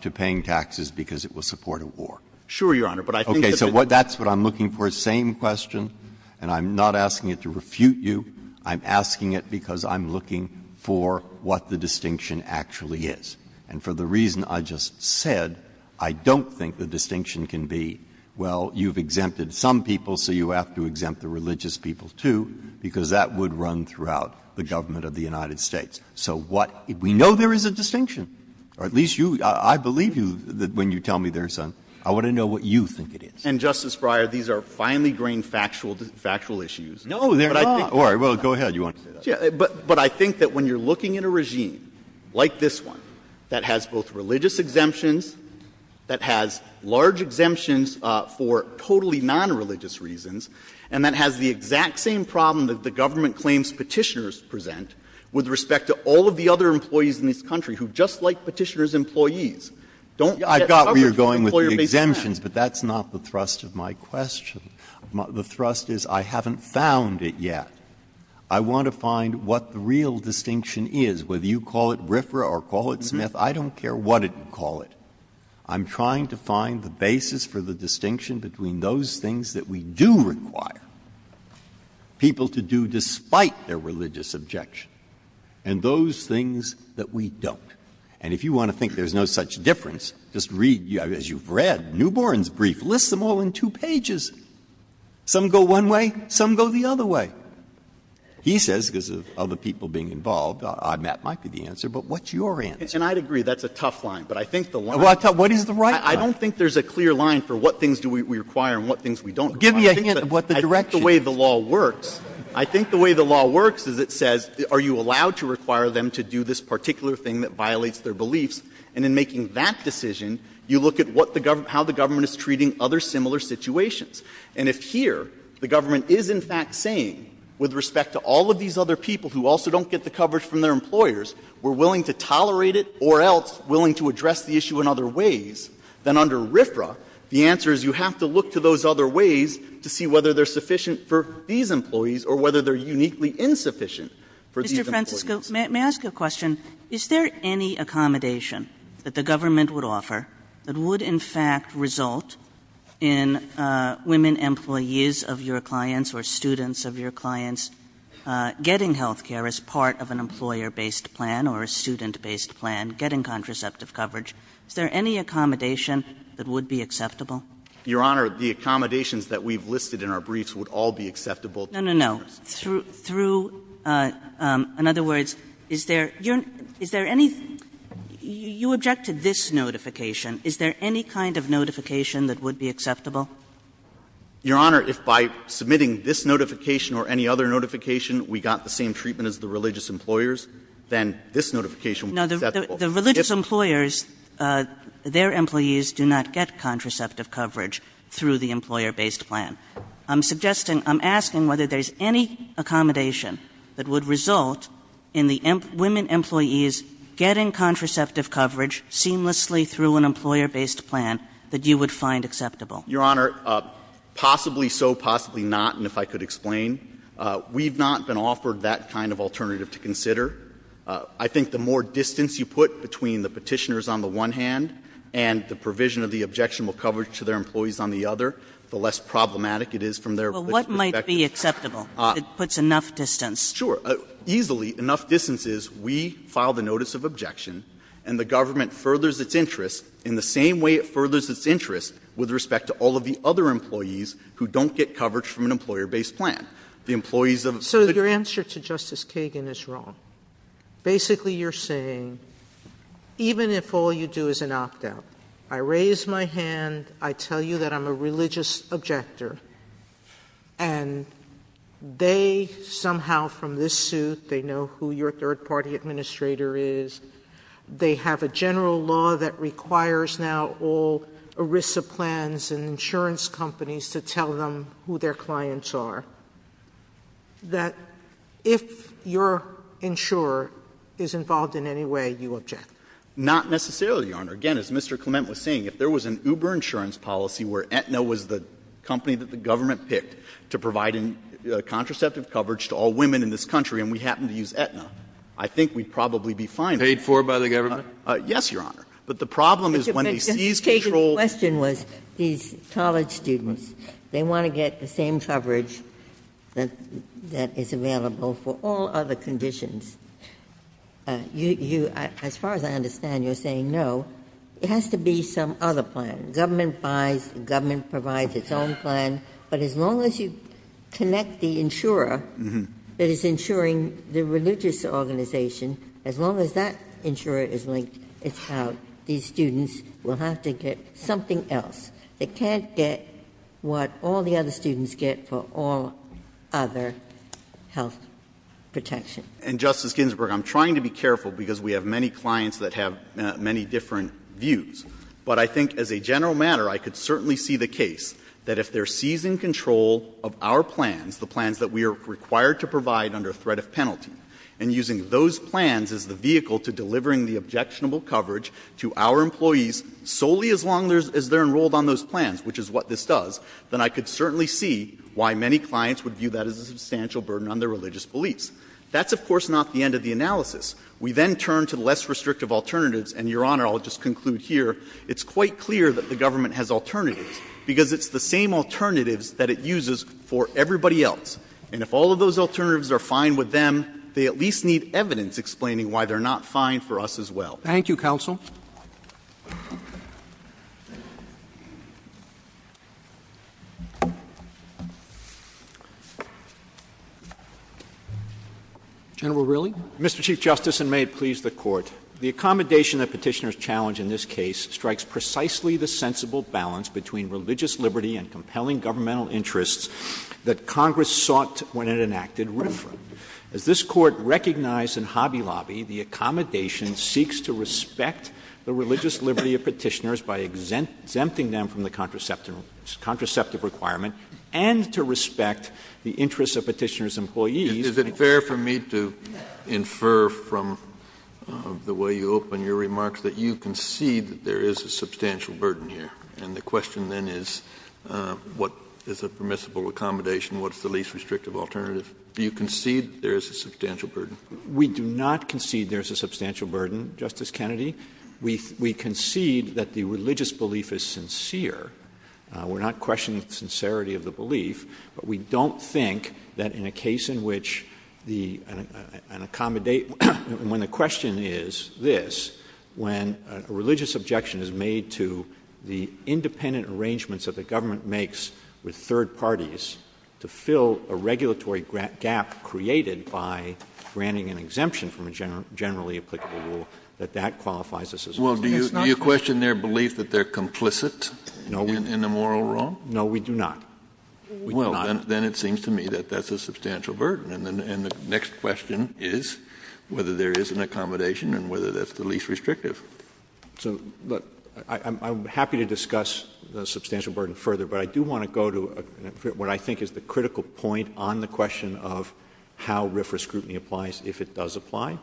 to paying taxes because it will support a war. Sure, Your Honor, but I think that's what I'm looking for. Same question. And I'm not asking it to refute you. I'm asking it because I'm looking for what the distinction actually is. And for the reason I just said, I don't think the distinction can be, well, you've exempted some people, so you have to exempt the religious people too, because that would run throughout the government of the United States. So what we know there is a distinction, or at least you, I believe that when you tell me there's some, I want to know what you think it is. And Justice Breyer, these are finely grained factual, factual issues. No, they're not. All right, well, go ahead. You want to say that? Yeah, but I think that when you're looking at a regime like this one that has both religious exemptions, that has large exemptions for totally non-religious reasons, and that has the exact same problem that the government claims petitioners present with respect to all of the other employees in this country who, just like petitioners, employees, don't get coverage. I've got where you're going with the exemptions, but that's not the thrust of my question. The thrust is I haven't found it yet. I want to find what the real distinction is, whether you call it RFRA or call it SNF, I don't care what you call it. I'm trying to find the basis for the distinction between those things that we do require people to do despite their religious objection and those things that we don't. And if you want to think there's no such difference, just read, as you've read, Newborn's Brief lists them all in two pages. Some go one way, some go the other way. He says, because of other people being involved, I'm not likely to answer, but what's your answer? And I'd agree that's a tough line. But I think the one I thought, what is the right? I don't think there's a clear line for what things do we require and what things we don't. Give me a hint of what the direct way the law works. I think the way the law works is it says, are you allowed to require them to do this particular thing that violates their beliefs? And in making that decision, you look at what the government, how the government is treating other similar situations. And if here, the government is in fact saying, with respect to all of these other people who also don't get the coverage from their employers, we're willing to tolerate it or else willing to address the issue in other ways, then under RFRA, the answer is you have to look to those other ways to see whether they're sufficient for these employees or whether they're uniquely insufficient for these employees. May I ask a question? Is there any accommodation that the government would offer that would in fact result in women employees of your clients or students of your clients getting health care as part of an employer-based plan or a student-based plan, getting contraceptive coverage? Is there any accommodation that would be acceptable? Your Honor, the accommodations that we've listed in our briefs would all be acceptable. No, no, no. Through, through, in other words, is there, is there any, you object to this notification. Is there any kind of notification that would be acceptable? Your Honor, if by submitting this notification or any other notification, we got the same treatment as the religious employers, then this notification would be acceptable. The religious employers, their employees do not get contraceptive coverage through the employer-based plan. I'm suggesting, I'm asking whether there's any accommodation that would result in the women employees getting contraceptive coverage seamlessly through an employer-based plan that you would find acceptable. Your Honor, possibly so, possibly not. And if I could explain, we've not been offered that kind of alternative to consider. I think the more distance you put between the petitioners on the one hand and the provision of the objectionable coverage to their employees on the other, the less problematic it is from their perspective. Well, what might be acceptable if it puts enough distance? Sure. Easily, enough distance is we file the notice of objection and the government furthers its interest in the same way it furthers its interest with respect to all of the other employees who don't get coverage from an employer-based plan. The employees of... So your answer to Justice Kagan is wrong. Basically, you're saying, even if all you do is an opt-out, I raise my hand, I tell you that I'm a religious objector, and they somehow from this suit, they know who your third-party administrator is, they have a general law that requires now all ERISA plans and insurance companies to tell them who their clients are, that if your insurer is involved in any way, you object. Not necessarily, Your Honor. Again, as Mr. Clement was saying, if there was an Uber insurance policy where Aetna was the company that the government picked to provide contraceptive coverage to all women in this country, and we happen to use Aetna, I think we'd probably be fine. Paid for by the government? Yes, Your Honor. But the problem is when... Mr. Bixton, your question was these college students, they want to get the same coverage that is available for all other conditions. As far as I understand, you're saying no, it has to be some other plan, government buys, the government provides its own plan, but as long as you connect the insurer that is insuring the religious organization, as long as that insurer is linked, it's how these students will have to get something else. They can't get what all the other students get for all other health protection. And Justice Ginsburg, I'm trying to be careful because we have many clients that have many different views, but I think as a general matter, I could certainly see the case that if they're seizing control of our plans, the plans that we are required to provide under threat of penalty, and using those plans as the vehicle to delivering the objectionable coverage to our employees solely as long as they're enrolled on those plans, which is what this does, then I could certainly see why many clients would view that as a substantial burden on their religious beliefs. That's of course not the end of the analysis. We then turn to the less restrictive alternatives and Your Honor, I'll just conclude here. It's quite clear that the government has alternatives because it's the same alternatives that it uses for everybody else. And if all of those alternatives are fine with them, they at least need evidence explaining why they're not fine for us as well. Thank you, counsel. General Reilly. Mr. Chief Justice, and may it please the court, the accommodation of petitioners challenge in this case strikes precisely the sensible balance between religious liberty and compelling governmental interests that Congress sought when it enacted. As this court recognized in Hobby Lobby, the accommodation seeks to respect the religious liberty of petitioners by exempt, exempting them from the contraceptive contraceptive requirement and to respect the interests of petitioners employees. Is it fair for me to infer from the way you open your remarks that you concede that there is a substantial burden here? And the question then is what is a permissible accommodation? What's the least restrictive alternative? Do you concede there's a substantial burden? We do not concede there's a substantial burden. Justice Kennedy, we, we concede that the religious belief is sincere. Uh, we're not questioning the sincerity of the belief, but we don't think that in a case in which the, uh, an accommodate when the question is this, when a religious objection is made to the independent arrangements of the government makes with third parties to fill a regulatory grant gap created by granting an exemption from a general, generally applicable rule, that that qualifies us as well. Do you, do you question their belief that they're complicit in the moral role? No, we do not. Well, then it seems to me that that's a substantial burden. And then the next question is whether there is an accommodation and whether that's the least restrictive. So, but I'm happy to discuss the substantial burden further, but I do want to go to what I think is the critical point on the question of how RFRA scrutiny applies if it does apply.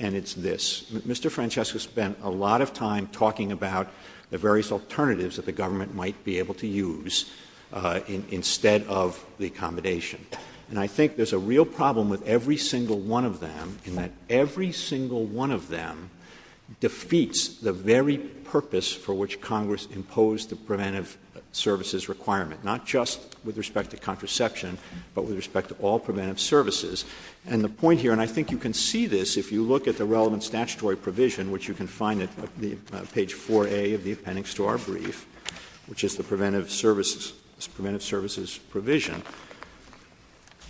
And it's this, Mr. Francesco spent a lot of time talking about the various alternatives that the federal government has in place instead of the accommodation. And I think there's a real problem with every single one of them in that every single one of them defeats the very purpose for which Congress imposed the preventive services requirement, not just with respect to contraception, but with respect to all preventive services. And the point here, and I think you can see this, if you look at the relevant statutory provision, which you can find at page 4A of the appendix to our brief, which is the preventive services, preventive services provision.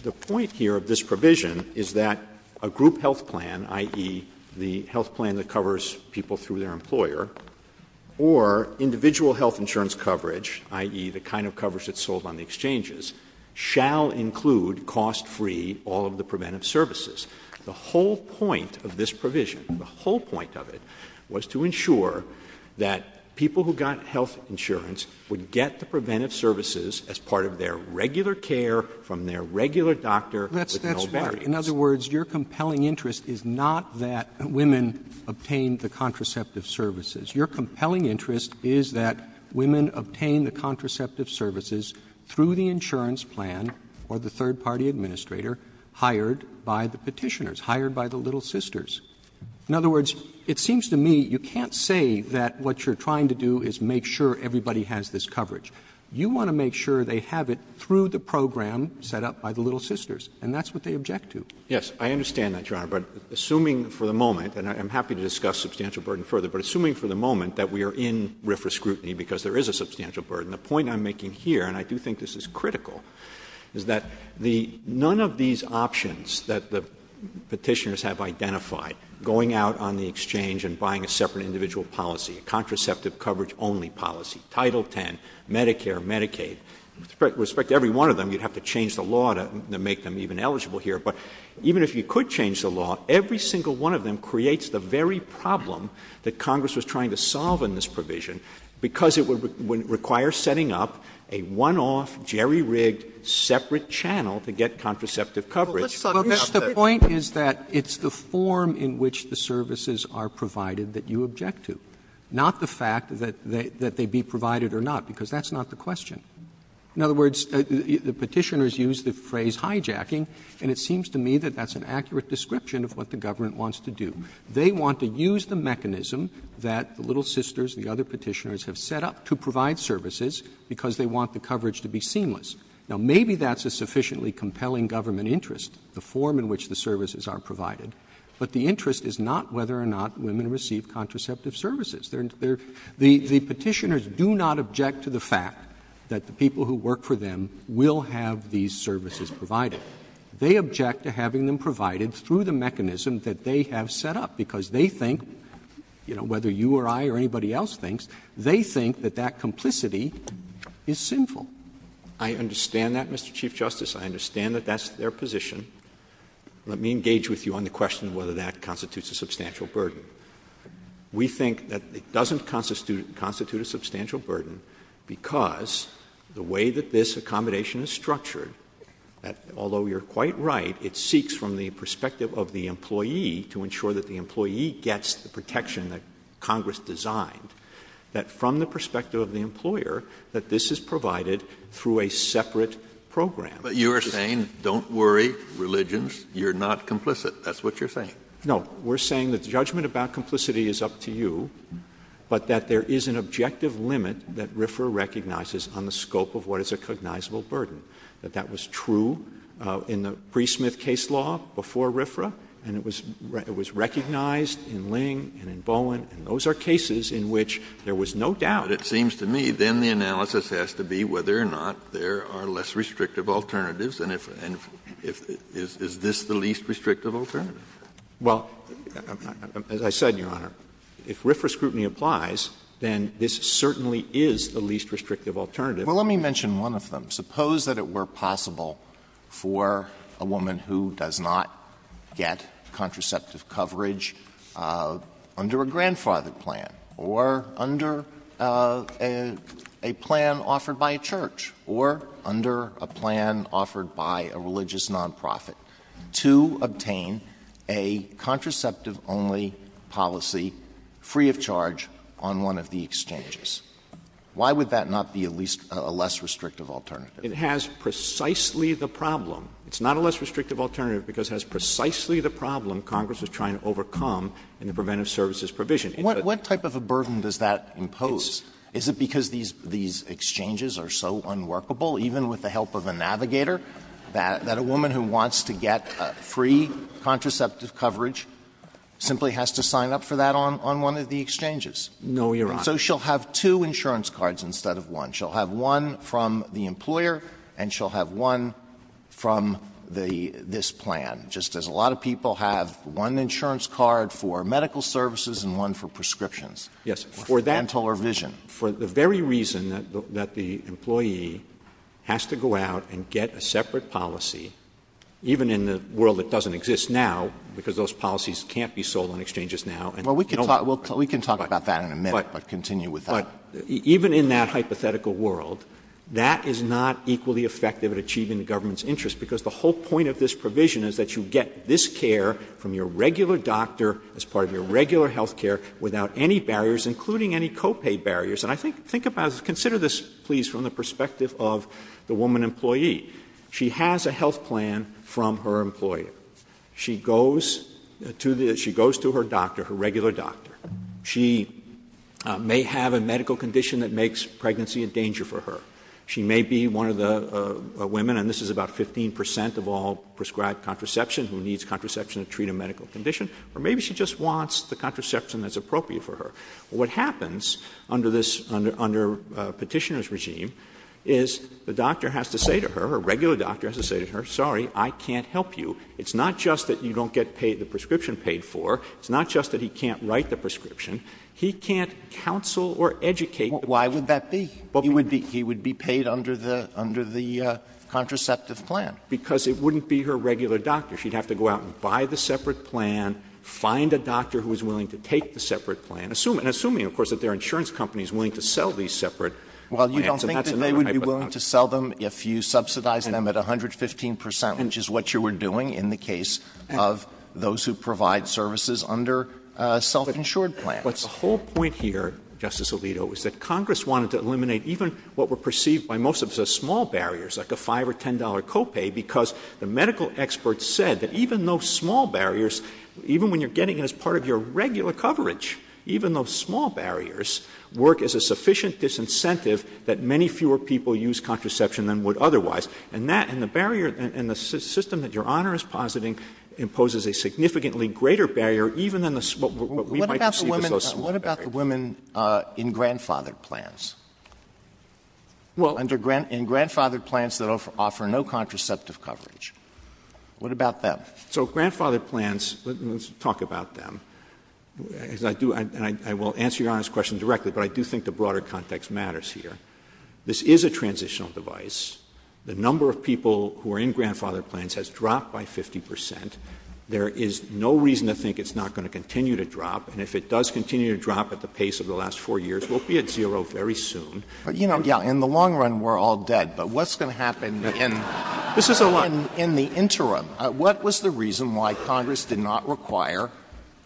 The point here of this provision is that a group health plan, i.e. the health plan that covers people through their employer or individual health insurance coverage, i.e. the kind of coverage that's sold on the exchanges shall include cost-free all of the preventive services. The whole point of this provision, the whole point of it was to ensure that people who got health insurance would get the preventive services as part of their regular care from their regular doctor. In other words, your compelling interest is not that women obtain the contraceptive services. Your compelling interest is that women obtain the contraceptive services through the insurance plan or the third party administrator hired by the petitioners hired by the little sisters. In other words, it seems to me you can't say that what you're trying to do is make sure everybody has this coverage. You want to make sure they have it through the program set up by the little sisters, and that's what they object to. Yes, I understand that, Your Honor, but assuming for the moment, and I'm happy to discuss substantial burden further, but assuming for the moment that we are in RFRA scrutiny because there is a substantial burden, the point I'm making here, and I do think this is critical, is that none of these options that the going out on the exchange and buying a separate individual policy, a contraceptive coverage only policy, Title 10, Medicare, Medicaid, with respect to every one of them, you'd have to change the law to make them even eligible here. But even if you could change the law, every single one of them creates the very problem that Congress was trying to solve in this provision because it would require setting up a one-off, jerry-rigged, separate channel to get contraceptive coverage. But the point is that it's the form in which the services are provided that you object to, not the fact that they be provided or not, because that's not the question. In other words, the petitioners use the phrase hijacking, and it seems to me that that's an accurate description of what the government wants to do. They want to use the mechanism that the little sisters, the other petitioners, have set up to provide services because they want the coverage to be seamless. Now, maybe that's a sufficiently compelling government interest, the form in which the services are provided, but the interest is not whether or not women receive contraceptive services. The petitioners do not object to the fact that the people who work for them will have these services provided. They object to having them provided through the mechanism that they have set up because they think, you know, whether you or I or anybody else thinks, they think that that complicity is sinful. I understand that, Mr. Chief Justice. I understand that that's their position. Let me engage with you on the question of whether that constitutes a substantial burden. We think that it doesn't constitute a substantial burden because the way that this accommodation is structured, although you're quite right, it seeks from the perspective of the employee to ensure that the employee gets the protection that through a separate program. But you are saying, don't worry, religions, you're not complicit. That's what you're saying. No, we're saying that judgment about complicity is up to you, but that there is an objective limit that RFRA recognizes on the scope of what is a cognizable burden, that that was true in the Brie Smith case law before RFRA. And it was, it was recognized in Ling and in Bowen, and those are cases in which there was no doubt. But it seems to me, then the analysis has to be whether or not there are less restrictive alternatives. And if, and if, if, is this the least restrictive alternative? Well, as I said, Your Honor, if RFRA scrutiny applies, then this certainly is the least restrictive alternative. Well, let me mention one of them. Suppose that it were possible for a woman who does not get contraceptive coverage under a grandfathered plan or under a plan offered by a church or under a plan offered by a religious nonprofit to obtain a contraceptive only policy free of charge on one of the exchanges. Why would that not be at least a less restrictive alternative? It has precisely the problem. It's not a less restrictive alternative because it has precisely the problem Congress is trying to overcome in the preventive services provision. What type of a burden does that impose? Is it because these, these exchanges are so unworkable, even with the help of a navigator, that a woman who wants to get free contraceptive coverage simply has to sign up for that on, on one of the exchanges? No, Your Honor. So she'll have two insurance cards instead of one. She'll have one from the employer and she'll have one from the, this plan. Just as a lot of people have one insurance card for medical services and one for prescriptions. Yes. For that vision, for the very reason that the employee has to go out and get a separate policy, even in the world that doesn't exist now, because those policies can't be sold on exchanges now. And we can talk about that in a minute, but continue with that. Even in that hypothetical world, that is not equally effective at achieving the interest, because the whole point of this provision is that you get this care from your regular doctor, as part of your regular health care, without any barriers, including any copay barriers. And I think, think about, consider this, please, from the perspective of the woman employee. She has a health plan from her employer. She goes to the, she goes to her doctor, her regular doctor. She may have a medical condition that makes pregnancy a danger for her. She may be one of the women, and this is about 15% of all prescribed contraception who needs contraception to treat a medical condition, or maybe she just wants the contraception that's appropriate for her. What happens under this, under, under a petitioner's regime is the doctor has to say to her, her regular doctor has to say to her, sorry, I can't help you. It's not just that you don't get paid the prescription paid for. It's not just that he can't write the prescription. He can't counsel or educate. Why would that be? But he would be, he would be paid under the, under the contraceptive plan because it wouldn't be her regular doctor. She'd have to go out and buy the separate plan, find a doctor who was willing to take the separate plan, assuming, assuming of course that their insurance company is willing to sell these separate. Well, you don't think that they would be willing to sell them if you subsidize them at 115%, which is what you were doing in the case of those who provide services under a self-insured plan. But the whole point here, Justice Alito, is that Congress wanted to eliminate even what were perceived by most of us as small barriers, like a five or $10 copay, because the medical experts said that even those small barriers, even when you're getting as part of your regular coverage, even those small barriers work as a sufficient disincentive that many fewer people use contraception than would otherwise. And that, and the barrier and the system that your honor is positing imposes a significantly greater barrier, even in the small, what we might see. What about the women in grandfathered plans? Well, under grant in grandfathered plans that offer no contraceptive coverage. What about that? So grandfathered plans, let's talk about them. I do, and I will answer your question directly, but I do think the broader context matters here. This is a transitional device. The number of people who are in grandfathered plans has dropped by 50%. There is no reason to think it's not going to continue to drop. And if it does continue to drop at the pace of the last four years, we'll be at zero very soon. You know, in the long run, we're all dead, but what's going to happen in the interim, what was the reason why Congress did not require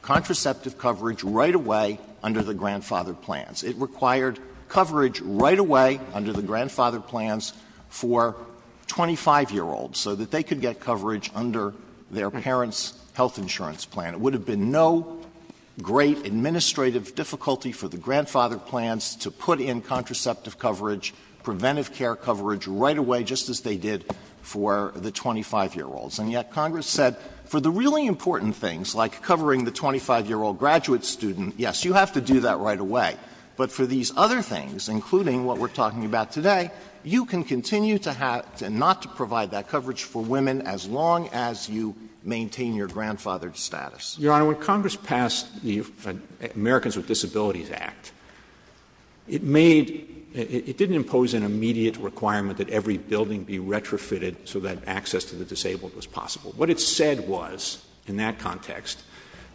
contraceptive coverage right away under the grandfathered plans? It required coverage right away under the grandfathered plans for 25 year olds so that they could get coverage under their parents' health insurance plan. It would have been no great administrative difficulty for the grandfathered plans to put in contraceptive coverage, preventive care coverage right away, just as they did for the 25 year olds. And yet Congress said for the really important things like covering the 25 year old graduate student, yes, you have to do that right away. But for these other things, including what we're talking about today, you can continue to have and not to provide that coverage for women as long as you maintain your grandfathered status. Your Honor, when Congress passed the Americans with Disabilities Act, it made, it didn't impose an immediate requirement that every building be retrofitted so that access to the disabled was possible. What it said was, in that context,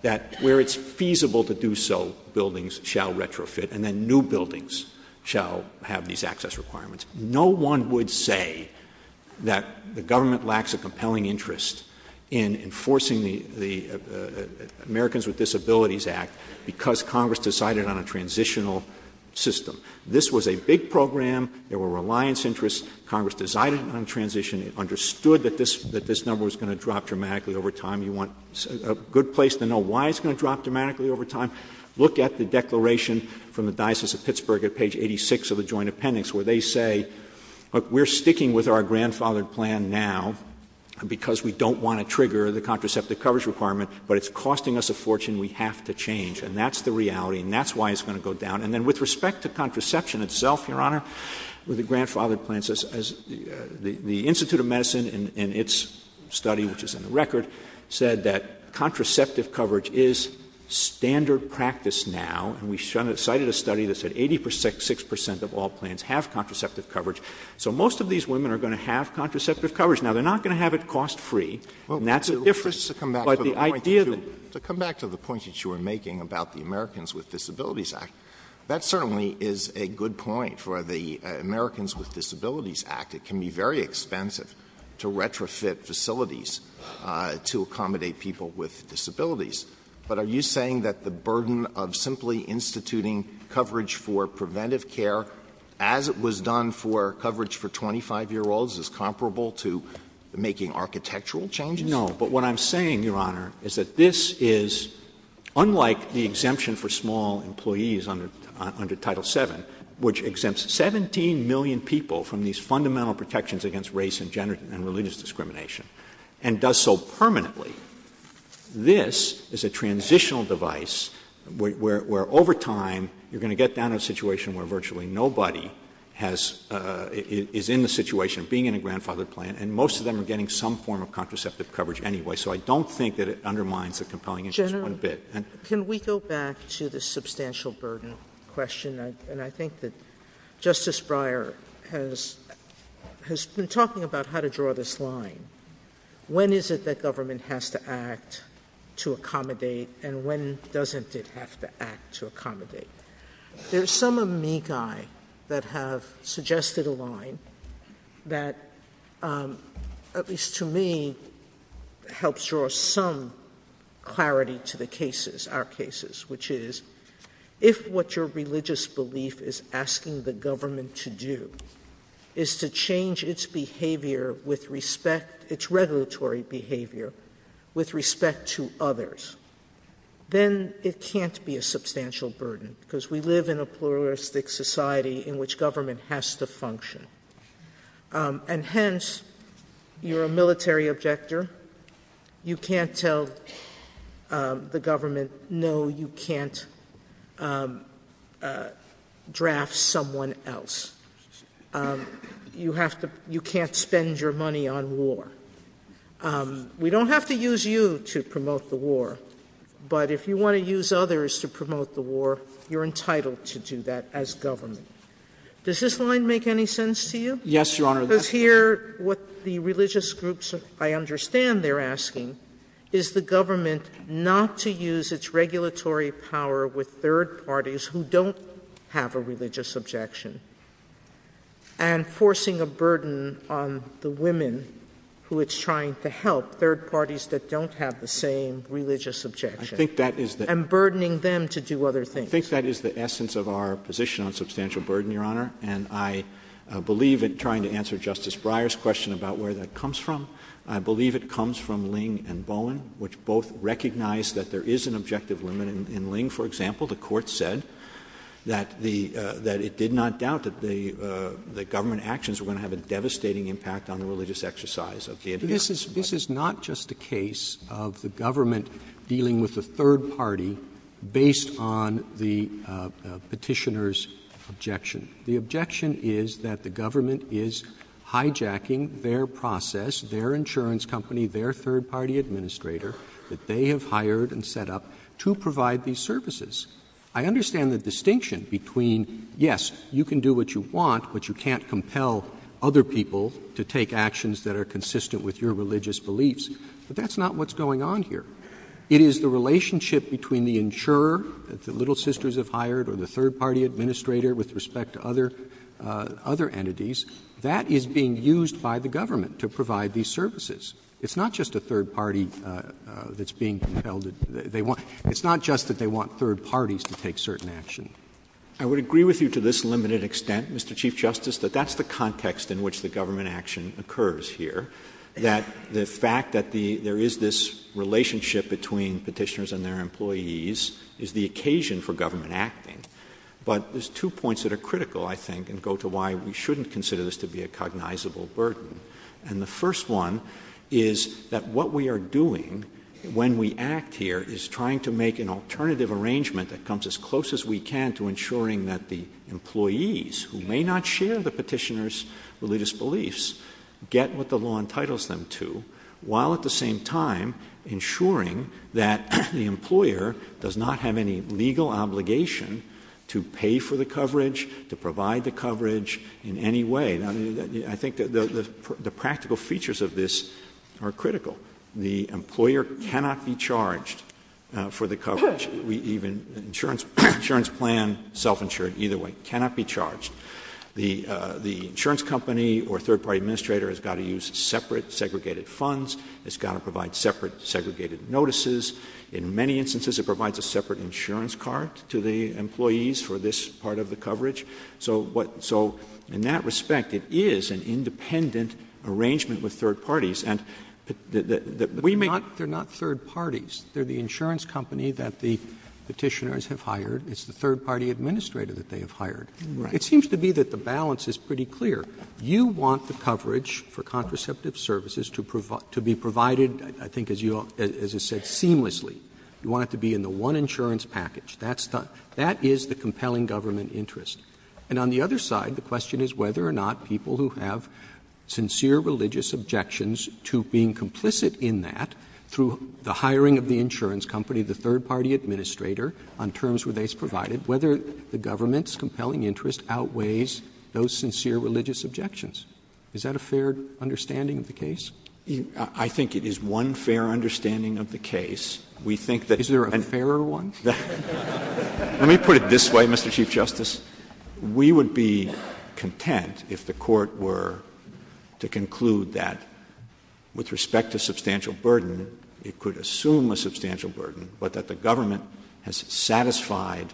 that where it's feasible to do so, buildings shall retrofit and then new buildings shall have these access requirements. No one would say that the government lacks a compelling interest in enforcing the Americans with Disabilities Act because Congress decided on a transitional system. This was a big program. There were reliance interests. Congress decided on transition, understood that this number was going to drop dramatically over time. You want a good place to know why it's going to drop dramatically over time. Look at the declaration from the Diocese of Pittsburgh at page 86 of the joint appendix, where they say, look, we're sticking with our grandfathered plan now because we don't want to trigger the contraceptive coverage requirement, but it's costing us a fortune. We have to change. And that's the reality. And that's why it's going to go down. And then with respect to contraception itself, Your Honor, with the grandfathered plans, as the Institute of Medicine in its study, which is in the record, said that contraceptive coverage is standard practice now. And we cited a study that said 86 percent of all plans have contraceptive coverage. So most of these women are going to have contraceptive coverage. Now, they're not going to have it cost free. And that's a difference. To come back to the point that you were making about the Americans with Disabilities Act, that certainly is a good point for the Americans with Disabilities Act. It can be very expensive to retrofit facilities to accommodate people with disabilities. But are you saying that the burden of simply instituting coverage for preventive care as it was done for coverage for 25 year olds is comparable to making architectural changes? No. But what I'm saying, Your Honor, is that this is unlike the exemption for small employees under Title 7, which exempts 17 million people from these fundamental protections against race and gender and religious discrimination and does so as a transitional device, where over time you're going to get down to a situation where virtually nobody is in the situation of being in a grandfathered plan. And most of them are getting some form of contraceptive coverage anyway. So I don't think that it undermines the compelling interest one bit. Can we go back to the substantial burden question? And I think that Justice Breyer has been talking about how to draw this line. When is it that government has to act to accommodate and when doesn't it have to act to accommodate? There's some of me guy that have suggested a line that, at least to me, helps draw some clarity to the cases, our cases, which is if what your religious belief is asking the government to do is to change its behavior with respect, its regulatory behavior with respect to others, then it can't be a substantial burden because we live in a pluralistic society in which government has to function. And hence, you're a military objector. You can't tell the government, no, you can't draft someone else. You have to you can't spend your money on war. We don't have to use you to promote the war, but if you want to use others to promote the war, you're entitled to do that as government. Does this line make any sense to you? Yes, Your Honor. Because here, what the religious groups, I understand they're asking, is the government not to use its regulatory power with third parties who don't have a religious objection and forcing a burden on the women who it's trying to help, third parties that don't have the same religious objection and burdening them to do other things. I think that is the essence of our position on substantial burden, Your Honor, and I believe in trying to answer Justice Breyer's question about where that comes from. I believe it comes from Ling and Bowen, which both recognize that there is an objective limit in Ling, for example. The court said that it did not doubt that the government actions were going to have a devastating impact on the religious exercise. This is not just a case of the government dealing with the third party based on the petitioner's objection. The objection is that the government is hijacking their process, their insurance company, their third party administrator that they have hired and set up to provide these services. I understand the distinction between, yes, you can do what you want, but you can't compel other people to take actions that are consistent with your religious beliefs. But that's not what's going on here. It is the relationship between the insurer that the Little Sisters have hired or the third party administrator with respect to other, other entities that is being used by the government to provide these services. It's not just a third party that's being compelled that they want. It's not just that they want third parties to take certain action. I would agree with you to this limited extent, Mr. Chief Justice, that that's the context in which the government action occurs here. That the fact that there is this relationship between petitioners and their But there's two points that are critical, I think, and go to why we shouldn't consider this to be a cognizable burden. And the first one is that what we are doing when we act here is trying to make an alternative arrangement that comes as close as we can to ensuring that the employees who may not share the petitioner's religious beliefs get what the law entitles them to, while at the same time, to pay for the coverage, to provide the coverage in any way. I think that the practical features of this are critical. The employer cannot be charged for the coverage. We even, insurance plan, self-insured, either way, cannot be charged. The insurance company or third party administrator has got to use separate, segregated funds. It's got to provide separate, segregated notices. In many instances, it provides a separate insurance card to the employees for this part of the coverage. So what so in that respect, it is an independent arrangement with third parties. And that we may not, they're not third parties. They're the insurance company that the petitioners have hired. It's the third party administrator that they have hired. It seems to be that the balance is pretty clear. You want the coverage for contraceptive services to be provided, I think, as you, as you said, seamlessly. You want it to be in the one insurance package. That's the, that is the compelling government interest. And on the other side, the question is whether or not people who have sincere religious objections to being complicit in that, through the hiring of the insurance company, the third party administrator, on terms where they provided, whether the government's compelling interest outweighs those sincere religious objections. Is that a fair understanding of the case? I think it is one fair understanding of the case. We think that. Is there a fairer one? Let me put it this way, Mr. Chief Justice. We would be content if the court were to conclude that with respect to substantial burden, it could assume a substantial burden, but that the government has satisfied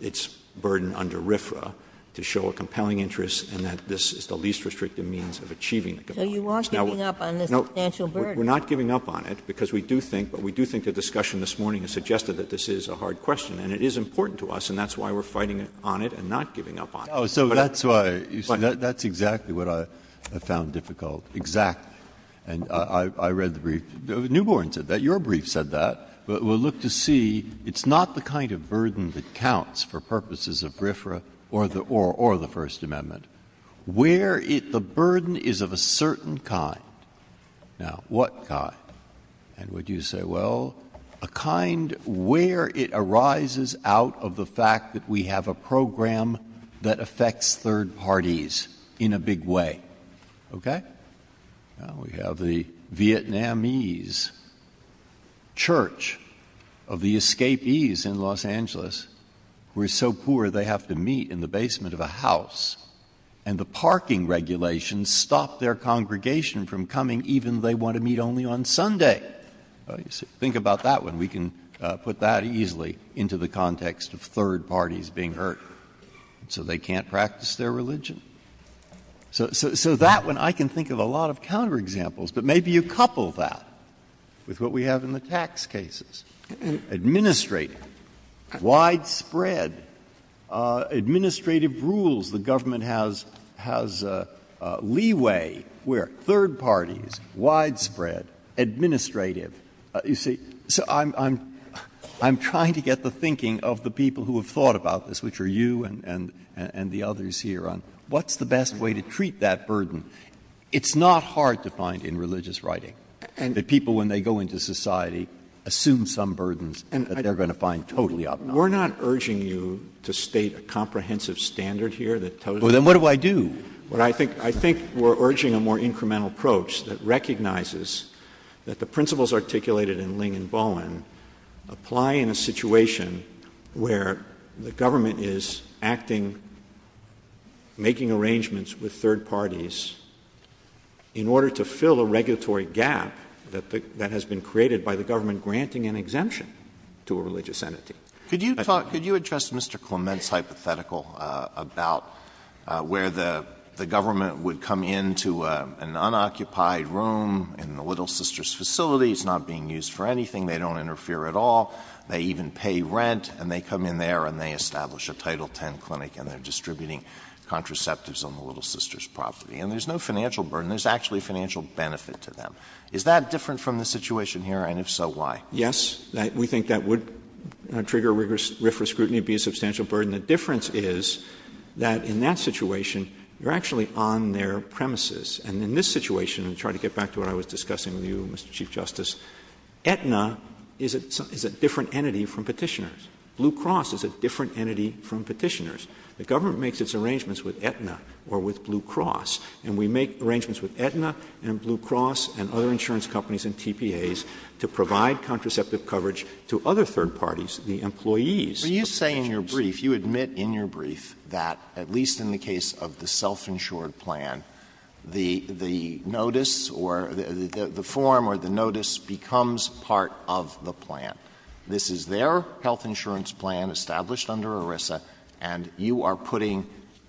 its burden under RFRA to show a compelling interest and that this is the least restricted means of achieving. So you are giving up on the substantial burden. We're not giving up on it because we do think, but we do think the discussion this morning has suggested that this is a hard question and it is important to us. And that's why we're fighting on it and not giving up on it. Oh, so that's why that's exactly what I have found difficult. Exactly. And I read the brief. Newborn said that your brief said that we'll look to see. It's not the kind of burden that counts for purposes of RFRA or the or the First Amendment where the burden is of a certain kind. Now, what kind? And would you say, well, a kind where it arises out of the fact that we have a program that affects third parties in a big way? OK, now we have the Vietnamese. Church of the escapees in Los Angeles, we're so poor they have to meet in the basement of a house and the parking regulations stop their congregation from coming even they want to meet only on Sunday. Think about that when we can put that easily into the context of third parties being hurt so they can't practice their religion. So that when I can think of a lot of counter examples that maybe you couple that with what we have in the tax cases, administrate widespread administrative rules. The government has has leeway where third parties widespread administrative. You see, I'm I'm trying to get the thinking of the people who have thought about this, which are you and the others here on what's the best way to treat that burden? It's not hard to find in religious writing and the people when they go into society assume some burdens and they're going to find totally up. We're not urging you to state a comprehensive standard here that. Well, then what do I do? But I think I think we're urging a more incremental approach that recognizes that the principles articulated in Ling and Bowen apply in a situation where the government is acting. Making arrangements with third parties. In order to fill a regulatory gap that that has been created by the government, granting an exemption to a religious entity. Could you talk? Could you address Mr. Clement's hypothetical about where the the government would come into an unoccupied room in the Little Sisters facilities not being used for anything? They don't interfere at all. They even pay rent and they come in there and they establish a Title 10 clinic and they're distributing contraceptives on the Little Sisters property. And there's no financial burden. There's actually financial benefit to them. Is that different from the situation here? And if so, why? Yes, we think that would trigger rigorous scrutiny, be a substantial burden. The difference is that in that situation, you're actually on their premises. And in this situation, I'm trying to get back to what I was discussing with you, Mr. Chief Justice, Aetna is a different entity from petitioners. Blue Cross is a different entity from petitioners. The government makes its arrangements with Aetna or with Blue Cross, and we make arrangements with Aetna and Blue Cross and other insurance companies and TPAs to provide contraceptive coverage to other third parties, the employees. So you say in your brief, you admit in your brief that, at least in the case of the self-insured plan, the notice or the form or the notice becomes part of the plan. This is their health insurance plan established under ERISA and you are putting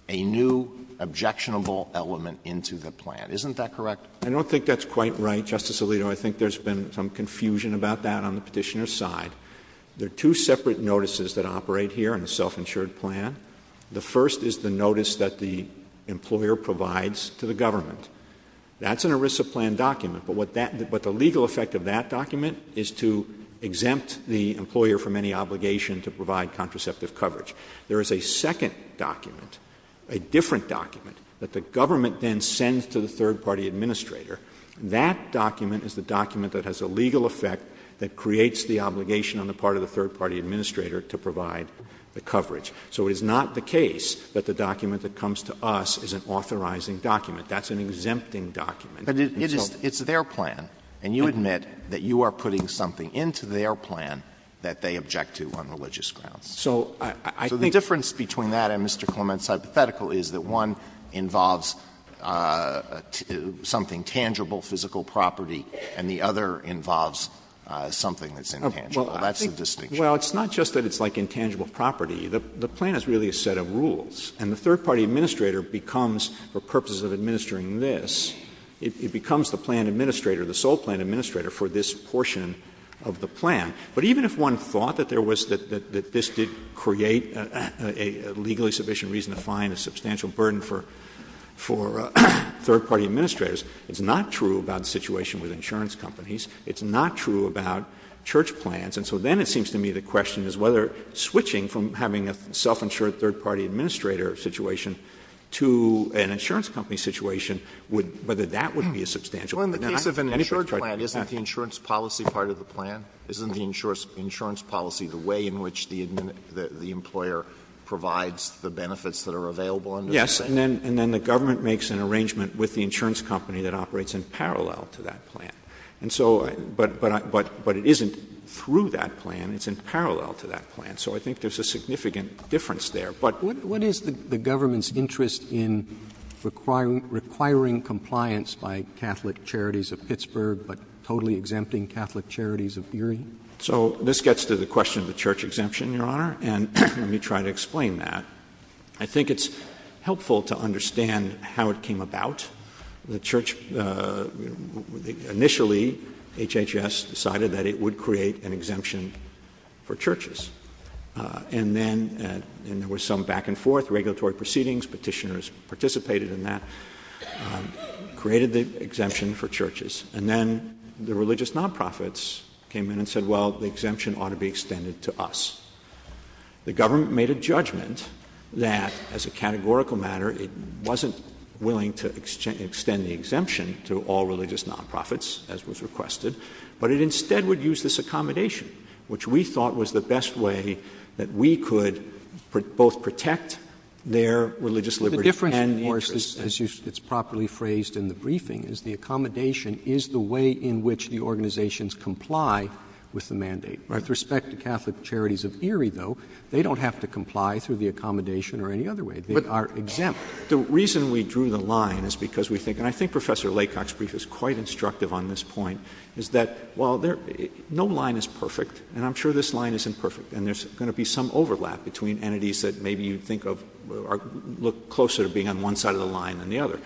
a new objectionable element into the plan. Isn't that correct? I don't think that's quite right, Justice Alito. I think there's been some confusion about that on the petitioner's side. There are two separate notices that operate here in the self-insured plan. The first is the notice that the employer provides to the government. That's an ERISA plan document, but the legal effect of that document is to exempt the employer from any obligation to provide contraceptive coverage. There is a second document, a different document, that the government then sends to the third party administrator. That document is the document that has a legal effect that creates the obligation on the part of the third party administrator to provide the coverage. So it is not the case that the document that comes to us is an authorizing document, that's an exempting document. But it's their plan and you admit that you are putting something into their plan that they object to on religious grounds. So the difference between that and Mr. Clement's hypothetical is that one involves something tangible, physical property, and the other involves something that's intangible. That's the distinction. Well, it's not just that it's like intangible property. The plan is really a set of rules. And the third party administrator becomes, for purposes of administering this, it becomes the plan administrator, the sole plan administrator for this portion of the plan. But even if one thought that there was, that this did create a legally sufficient reason to find a substantial burden for third party administrators, it's not true about the situation with insurance companies. It's not true about church plans. And so then it seems to me the question is whether switching from having a self insured third party administrator situation to an insurance company situation, would, whether that would be a substantial. Well, in the case of an insurance plan, isn't the insurance policy part of the plan? Isn't the insurance policy the way in which the employer provides the benefits that are available? Yes. And then, and then the government makes an arrangement with the insurance company that operates in parallel to that plan. And so, but, but, but, but it isn't through that plan. It's in parallel to that plan. So I think there's a significant difference there. But what is the government's interest in requiring, requiring compliance by Catholic charities of Pittsburgh, but totally exempting Catholic charities of Erie? So this gets to the question of the church exemption, Your Honor. And let me try to explain that. I think it's helpful to understand how it came about. The church, uh, initially HHS decided that it would create an exemption for churches, uh, and then, uh, and there was some back and forth regulatory proceedings, petitioners participated in that, um, created the exemption for churches, and then the religious nonprofits came in and said, well, the exemption ought to be extended to us. The government made a judgment that as a categorical matter, it wasn't willing to extend the exemption to all religious nonprofits as was requested, but it instead would use this accommodation, which we thought was the best way that we could put both protect their religious liberty and nature, as it's properly phrased in the briefing is the accommodation is the way in which the organizations comply with the mandate, right? With respect to Catholic charities of Erie, though, they don't have to comply through the accommodation or any other way, but are exempt. The reason we drew the line is because we think, and I think Professor Lakoff's brief is quite instructive on this point is that while there no line is perfect and I'm sure this line is imperfect and there's going to be some overlap between entities that maybe you think of look closer to being on one side of the line than the other,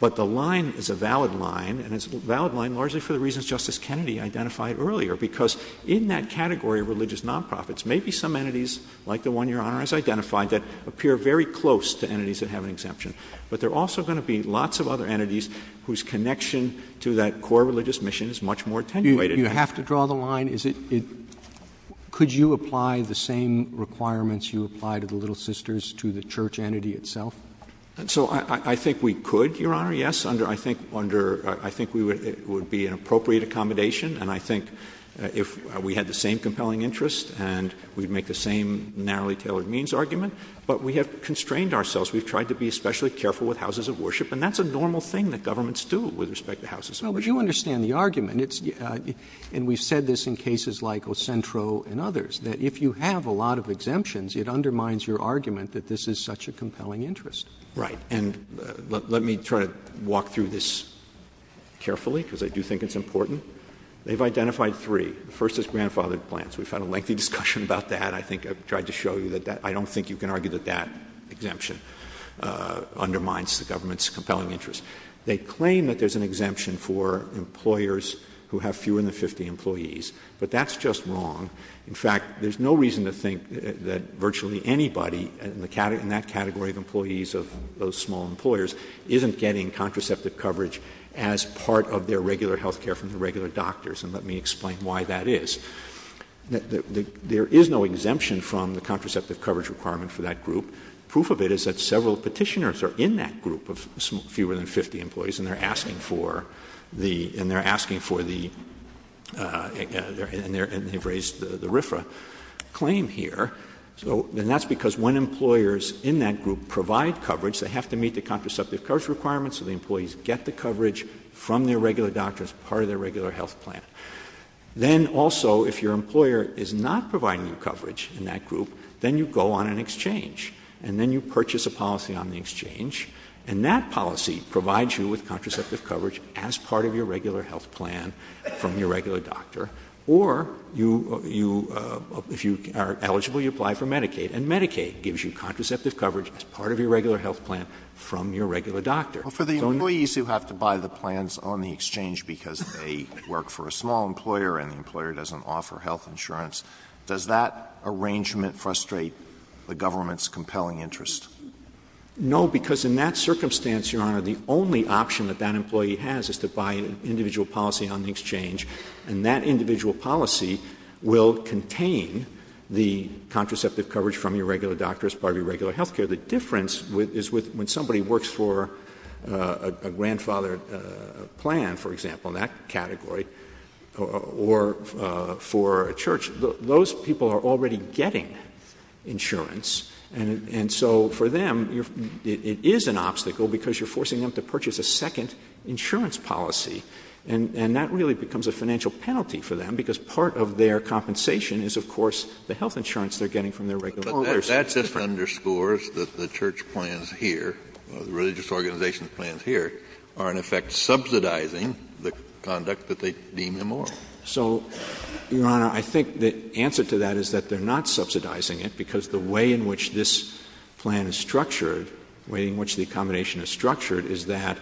but the line is a valid line and it's a valid line, largely for the reasons Justice Kennedy identified earlier, because in that category of religious nonprofits, maybe some entities like the one Your Honor has identified that appear very close to entities that have an exemption, but they're also going to be lots of other entities whose connection to that core religious mission is much more attenuated. Do you have to draw the line? Is it, could you apply the same requirements you apply to the Little Sisters to the church entity itself? And so I think we could, Your Honor, yes. Under, I think under, I think we would, it would be an appropriate accommodation and I think if we had the same compelling interest and we'd make the same narrowly tailored means argument, but we have constrained ourselves. We've tried to be especially careful with houses of worship and that's a normal thing that governments do with respect to houses of worship. No, but you understand the argument. It's, and we've said this in cases like El Centro and others, that if you have a lot of exemptions, it undermines your argument that this is such a compelling interest. Right. And let me try to walk through this carefully because I do think it's important. They've identified three. First is grandfathered plans. We've had a lengthy discussion about that. I think I've tried to show you that that, I don't think you can argue that that exemption undermines the government's compelling interest. They claim that there's an exemption for employers who have fewer than 50 employees, but that's just wrong. In fact, there's no reason to think that virtually anybody in the category, in that category of employees of those small employers isn't getting contraceptive coverage as part of their regular healthcare from the regular doctors. And let me explain why that is. There is no exemption from the contraceptive coverage requirement for that group. Proof of it is that several petitioners are in that group of fewer than 50 employees and they're asking for the, and they're asking for the, and they've raised the RFRA claim here. So then that's because when employers in that group provide coverage, they have to meet the contraceptive coverage requirements so the employees get the coverage from their regular doctor as part of their regular health plan. Then also, if your employer is not providing you coverage in that group, then you go on an exchange and then you purchase a policy on the exchange and that policy provides you with contraceptive coverage as part of your regular health plan from your regular doctor, or you, you, if you are eligible, you apply for Medicaid and Medicaid gives you contraceptive coverage as part of your regular health plan from your regular doctor. For the employees who have to buy the plans on the exchange because they work for a small employer and the employer doesn't offer health insurance, does that arrangement frustrate the government's compelling interest? No, because in that circumstance, Your Honor, the only option that that employee has is to buy an individual policy on the exchange and that individual policy will contain the coverage as part of your regular health care. The difference is when somebody works for a grandfather plan, for example, in that category, or for a church, those people are already getting insurance. And so for them, it is an obstacle because you're forcing them to purchase a second insurance policy and that really becomes a financial penalty for them because part of their compensation is, of course, the health insurance they're getting from their employers. But that just underscores that the church plans here, the religious organization plans here, are in effect subsidizing the conduct that they deem immoral. So, Your Honor, I think the answer to that is that they're not subsidizing it because the way in which this plan is structured, the way in which the accommodation is structured, is that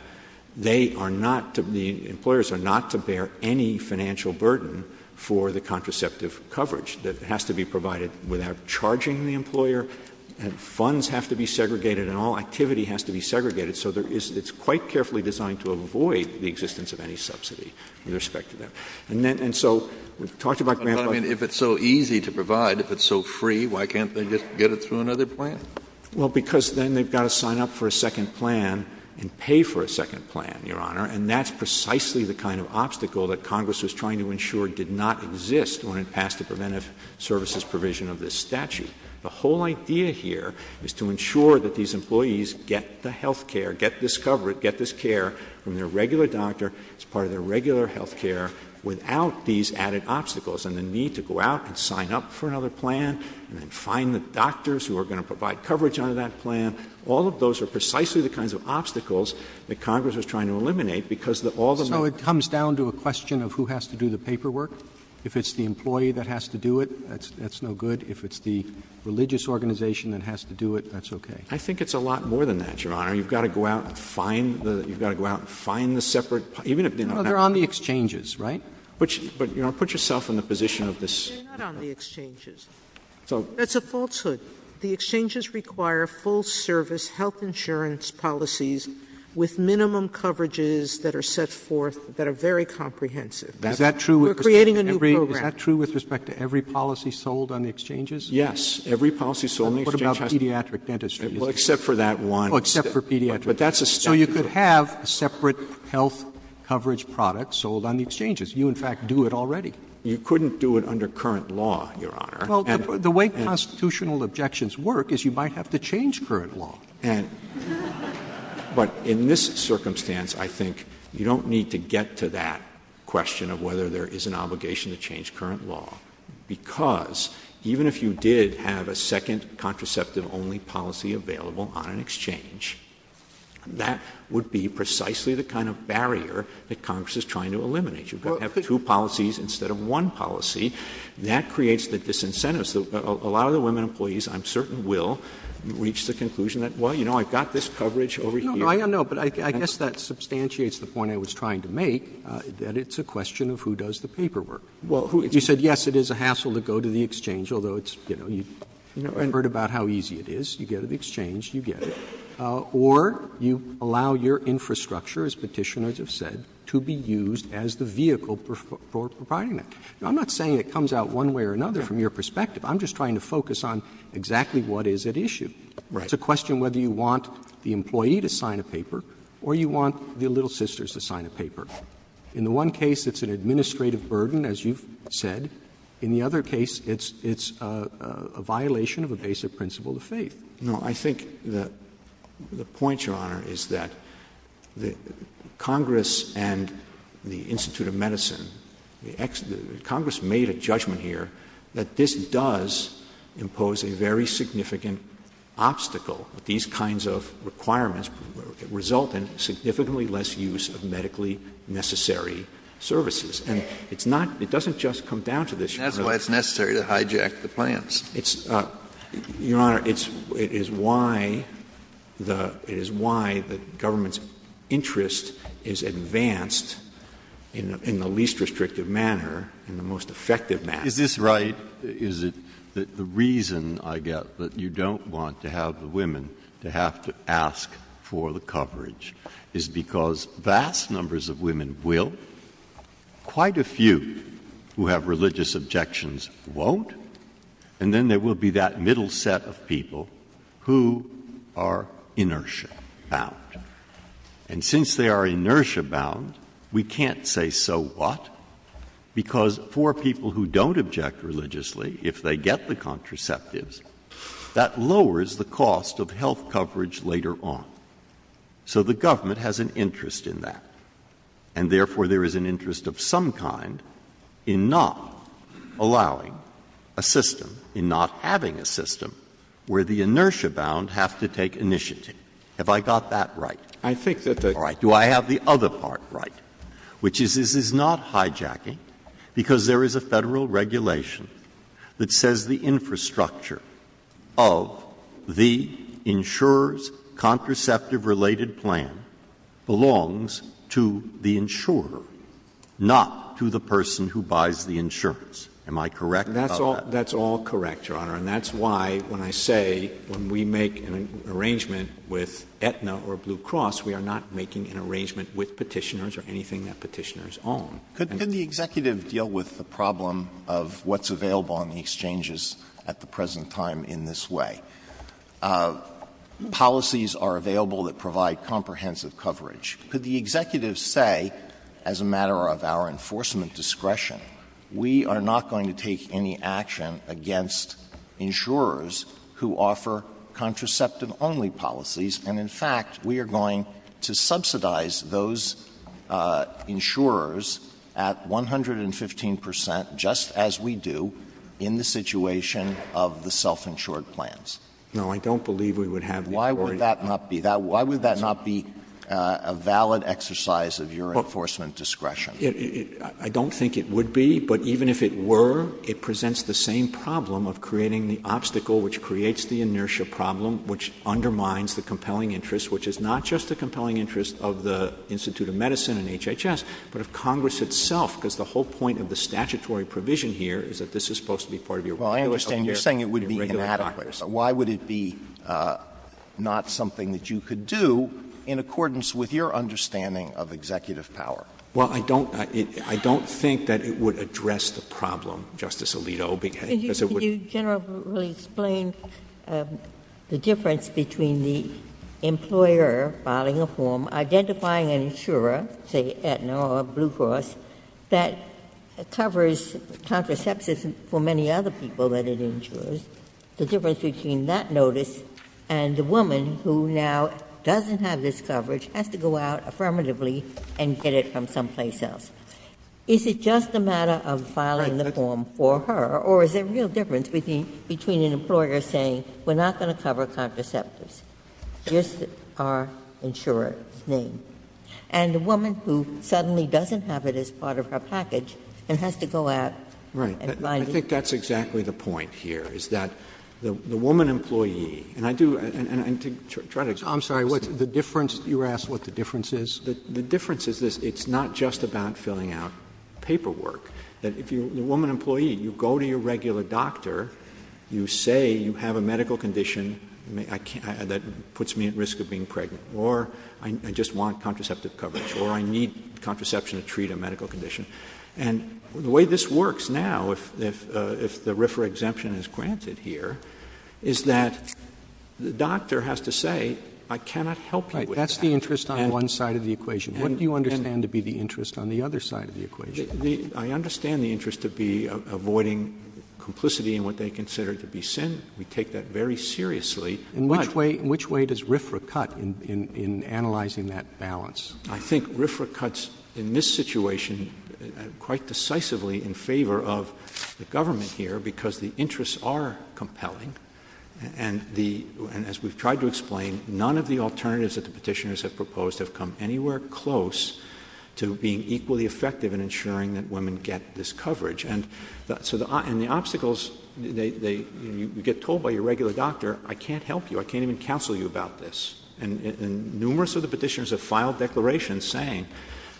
they are not, the employers are not to bear any financial burden for the contraceptive coverage that has to be provided without charging the employer. And funds have to be segregated and all activity has to be segregated. So it's quite carefully designed to avoid the existence of any subsidy with respect to that. And so we've talked about grants. I mean, if it's so easy to provide, if it's so free, why can't they just get it through another plan? Well, because then they've got to sign up for a second plan and pay for a second plan, Your Honor. And that's precisely the kind of obstacle that Congress was trying to ensure did not exist when it passed the preventive services provision of this statute. The whole idea here is to ensure that these employees get the health care, get this coverage, get this care from their regular doctor as part of their regular health care without these added obstacles. And the need to go out and sign up for another plan and find the doctors who are going to provide coverage under that plan, all of those are precisely the kinds of things that Congress was trying to do. And I think that's a good point, because all the money comes down to a question of who has to do the paperwork. If it's the employee that has to do it, that's no good. If it's the religious organization that has to do it, that's okay. I think it's a lot more than that, Your Honor. You've got to go out and find the, you've got to go out and find the separate, even if they're not on the exchanges, right? But, but, you know, put yourself in a position of this. They're not on the exchanges. So that's a falsehood. The exchanges require full service, health insurance policies with minimum coverages that are set forth, that are very comprehensive. Is that true? We're creating a new program. Is that true with respect to every policy sold on the exchanges? Yes. Every policy sold on the exchanges. And what about pediatric dentistry? Well, except for that one. Oh, except for pediatric dentistry. So you could have a separate health coverage product sold on the exchanges. You, in fact, do it already. You couldn't do it under current law, Your Honor. Well, the way constitutional objections work is you might have to change current law. And, but in this circumstance, I think you don't need to get to that question of whether there is an obligation to change current law, because even if you did have a second contraceptive only policy available on an exchange, that would be precisely the kind of barrier that Congress is trying to eliminate. You've got to have two policies instead of one policy. That creates this incentive. So a lot of the women employees, I'm certain, will reach the conclusion that, well, you know, I've got this coverage over here. No, no, I know. But I guess that substantiates the point I was trying to make, that it's a question of who does the paperwork. Well, who? You said, yes, it is a hassle to go to the exchange, although it's, you know, you've never heard about how easy it is. You go to the exchange, you get it. Or you allow your infrastructure, as Petitioners have said, to be used as the vehicle for providing it. I'm not saying it comes out one way or another from your perspective. I'm just trying to focus on exactly what is at issue. It's a question whether you want the employee to sign a paper or you want your little sisters to sign a paper. In the one case, it's an administrative burden, as you've said. In the other case, it's a violation of a basic principle of faith. No, I think that the point, Your Honor, is that the Congress and the Institute of Congress made a judgment here that this does impose a very significant obstacle. These kinds of requirements result in significantly less use of medically necessary services. And it's not it doesn't just come down to this. That's why it's necessary to hijack the plans. It's your honor. It's it is why the is why the government's interest is advanced in the least restrictive manner and the most effective. Is this right? Is it the reason I get that you don't want to have the women to have to ask for the coverage is because vast numbers of women will. Quite a few who have religious objections won't. And then there will be that middle set of people who are inertia bound. And since they are inertia bound, we can't say so what, because for people who don't object religiously, if they get the contraceptives, that lowers the cost of health coverage later on. So the government has an interest in that, and therefore there is an interest of some kind in not allowing a system, in not having a system where the inertia bound has to take initiative. Have I got that right? I think that's right. Do I have the other part right, which is this is not hijacking because there is a federal regulation that says the infrastructure of the insurers contraceptive related plan belongs to the insurer, not to the person who buys the insurance. Am I correct? That's all correct, Your Honor. And that's why when I say when we make an arrangement with Aetna or Blue Cross, we are not making an arrangement with petitioners or anything that petitioners own. Could the executive deal with the problem of what's available on the exchanges at the present time in this way? Policies are available that provide comprehensive coverage. Could the executive say as a matter of our enforcement discretion, we are not going to take any action against insurers who offer contraceptive only policies? And in fact, we are going to subsidize those insurers at 115 percent, just as we do in the situation of the self-insured plans. No, I don't believe we would have. Why would that not be that? Why would that not be a valid exercise of your enforcement discretion? I don't think it would be, but even if it were, it presents the same problem of creating the obstacle which creates the inertia problem, which undermines the compelling interest, which is not just the compelling interest of the Institute of Medicine and HHS, but of Congress itself. Because the whole point of the statutory provision here is that this is supposed to be part of your regular time. Well, I understand you're saying it would be inadequate, so why would it be not something that you could do in accordance with your understanding of executive power? Well, I don't think that it would address the problem, Justice Alito, because it would General, could you explain the difference between the employer filing a form, identifying an insurer, say Aetna or Blue Cross, that covers contraceptives for many other people that it insures, the difference between that notice and the woman who now doesn't have this coverage has to go out affirmatively and get it from someplace else. Is it just a matter of filing the form for her, or is there a real difference between an employer saying, we're not going to cover contraceptives, just our insurer's name, and the woman who suddenly doesn't have it as part of her package and has to go out and find it? I think that's exactly the point here, is that the woman employee, and I do, I'm sorry, the difference, you asked what the difference is, the difference is it's not just about filling out paperwork, that if the woman employee, you go to your regular doctor, you say you have a medical condition that puts me at risk of being pregnant, or I just want contraceptive coverage, or I need contraception to treat a medical condition, and the way this works now if the RFRA exemption is granted here, is that the doctor has to say, I cannot help you with that. That's the interest on one side of the equation. What do you understand to be the interest on the other side of the equation? I understand the interest to be avoiding complicity in what they consider to be sin. We take that very seriously. In which way does RFRA cut in analyzing that balance? I think RFRA cuts in this situation quite decisively in favor of the government here because the interests are compelling, and as we've tried to explain, none of the alternatives that the petitioners have proposed have come anywhere close to being equally effective in ensuring that women get this coverage, and the obstacles, you get told by your regular doctor, I can't help you, I can't even counsel you about this, and numerous of the petitioners have filed declarations saying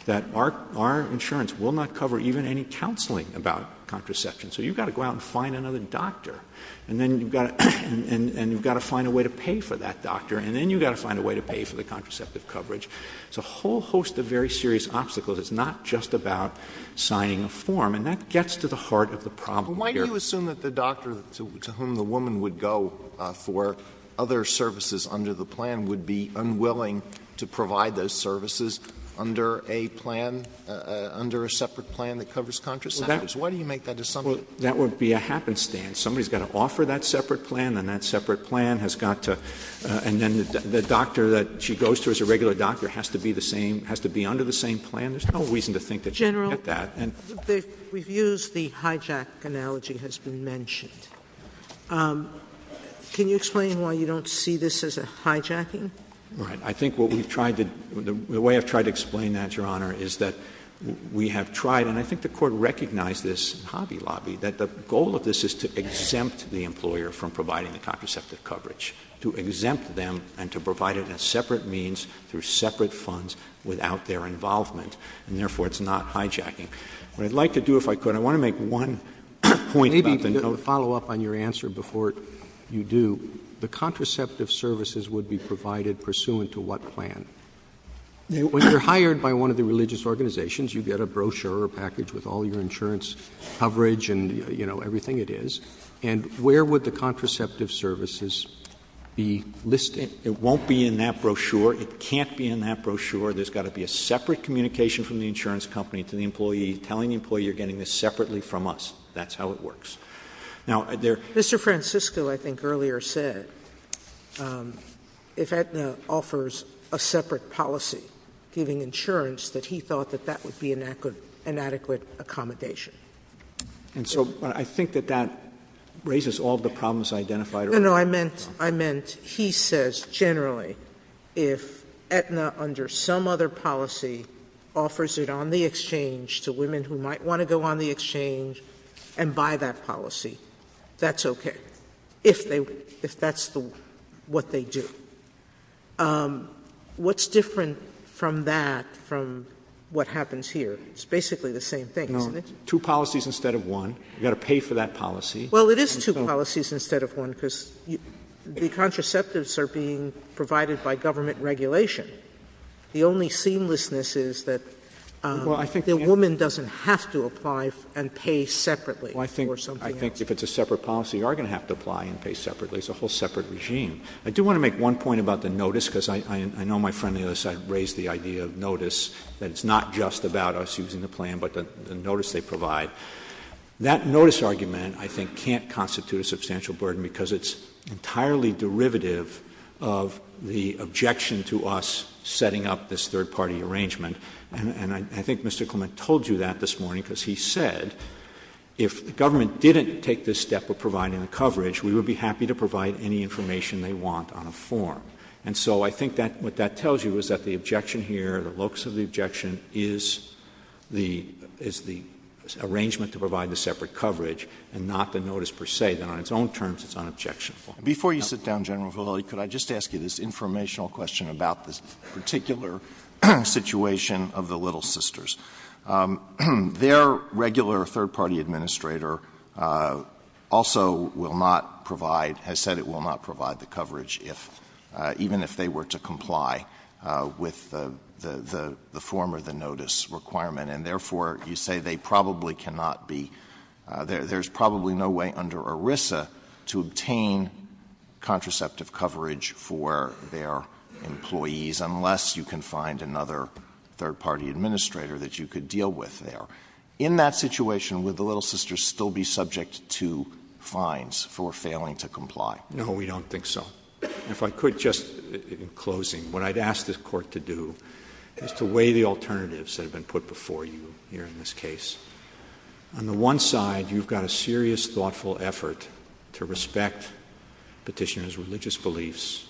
that our insurance will not cover even any counseling about contraception, so you've got to go out and find another doctor, and you've got to find a way to pay for that doctor, and then you've got to find a way to pay for the contraceptive coverage. It's a whole host of very serious obstacles. It's not just about signing a form, and that gets to the heart of the problem here. Why do you assume that the doctor to whom the woman would go for other services under the plan would be unwilling to provide those services under a plan, under a separate plan that covers contraceptives? Why do you make that assumption? That would be a happenstance. Somebody's got to offer that separate plan, and that separate plan has got to, and then the doctor that she goes to as a regular doctor has to be the same, has to be under the same plan. There's no reason to think that she can't get that. General, we've used the hijack analogy has been mentioned. Can you explain why you don't see this as a hijacking? I think what we've tried to, the way I've tried to explain that, Your Honor, is that we have tried, and I think the Court recognized this in Hobby Lobby, that the goal of this is to exempt the employer from providing the contraceptive coverage, to exempt them and to provide it as separate means, through separate funds, without their involvement, and therefore it's not hijacking. What I'd like to do, if I could, I want to make one point. Maybe to follow up on your answer before you do, the contraceptive services would be provided pursuant to what plan? When you're hired by one of the religious organizations, you get a brochure or package with all your insurance coverage and, you know, everything it is, and where would the contraceptive services be listed? It won't be in that brochure. It can't be in that brochure. There's got to be a separate communication from the insurance company to the employee, telling the employee you're how it works. Mr. Francisco, I think, earlier said, if Aetna offers a separate policy, giving insurance, that he thought that that would be an adequate accommodation. And so I think that that raises all the problems I identified earlier. No, no. I meant, he says, generally, if Aetna, under some other policy, offers it on the exchange and by that policy, that's okay, if that's what they do. What's different from that from what happens here? It's basically the same thing, isn't it? Two policies instead of one. You've got to pay for that policy. Well, it is two policies instead of one, because the contraceptives are being provided by government regulation. The only seamlessness is that the woman doesn't have to apply and pay separately. Well, I think if it's a separate policy, you are going to have to apply and pay separately. It's a whole separate regime. I do want to make one point about the notice, because I know my friend on the other side raised the idea of notice, that it's not just about us using the plan, but the notice they provide. That notice argument, I think, can't constitute a substantial burden, because it's entirely derivative of the objection to us setting up this third-party arrangement. And I think Mr. Clement told you that this morning, because he said, if the government didn't take this step of providing the coverage, we would be happy to provide any information they want on a form. And so I think what that tells you is that the objection here, the locus of the objection, is the arrangement to provide the separate coverage, and not the notice per se, that on its own terms, it's an objection. Before you sit down, General Votelli, could I just ask you this informational question about this particular situation of the Little Sisters? Their regular third-party administrator also will not provide – has said it will not provide the coverage, even if they were to comply with the form of the notice requirement. And therefore, you say they probably cannot be – there's probably no way under ERISA to obtain contraceptive coverage for their employees unless you can find another third-party administrator that you could deal with there. In that situation, would the Little Sisters still be subject to fines for failing to comply? No, we don't think so. If I could, just in closing, what I'd ask this Court to do is to weigh the alternatives that have been put before you here in this case. On the one side, you've got a serious, thoughtful effort to respect petitioners' religious beliefs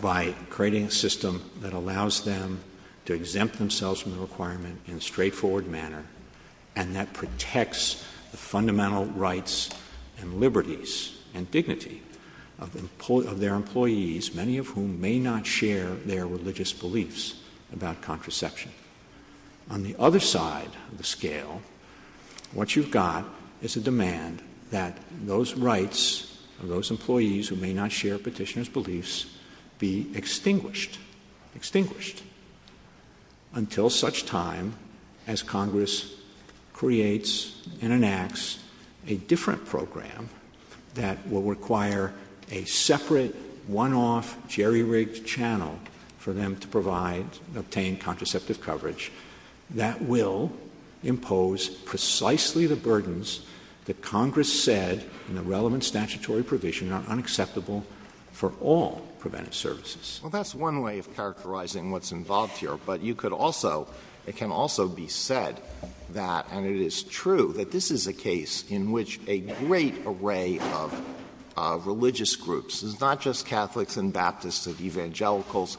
by creating a system that allows them to exempt themselves from the requirement in a straightforward manner and that protects the fundamental rights and liberties and dignity of their employees, many of whom may not share their religious beliefs about contraception. On the other side of the scale, what you've got is a demand that those rights of those employees who may not share petitioners' beliefs be extinguished – extinguished – until such time as Congress creates and enacts a different program that will require a separate, one-off jerry-rigged channel for them to provide and obtain contraceptive coverage that will impose precisely the burdens that Congress said in the relevant statutory provision are unacceptable for all preventive services. Well, that's one way of characterizing what's involved here, but you could also – it can also be said that – and it is true – that this is a case in which a great array of religious groups – it's not just Catholics and Baptists, it's evangelicals,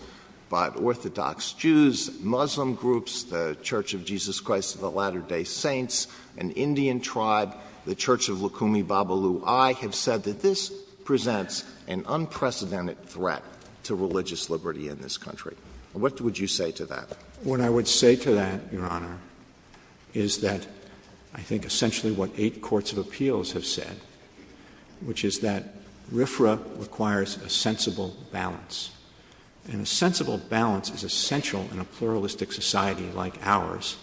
but Orthodox Jews, Muslim groups, the Church of Jesus Christ of the Latter-day Saints, an Indian tribe, the Church of Lukumi Babalu Ai – have said that this presents an unprecedented threat to religious liberty in this country. What would you say to that? What I would say to that, Your Honor, is that I think essentially what eight courts of appeals have said, which is that RFRA requires a sensible balance. And a sensible balance is essential in a pluralistic society like ours,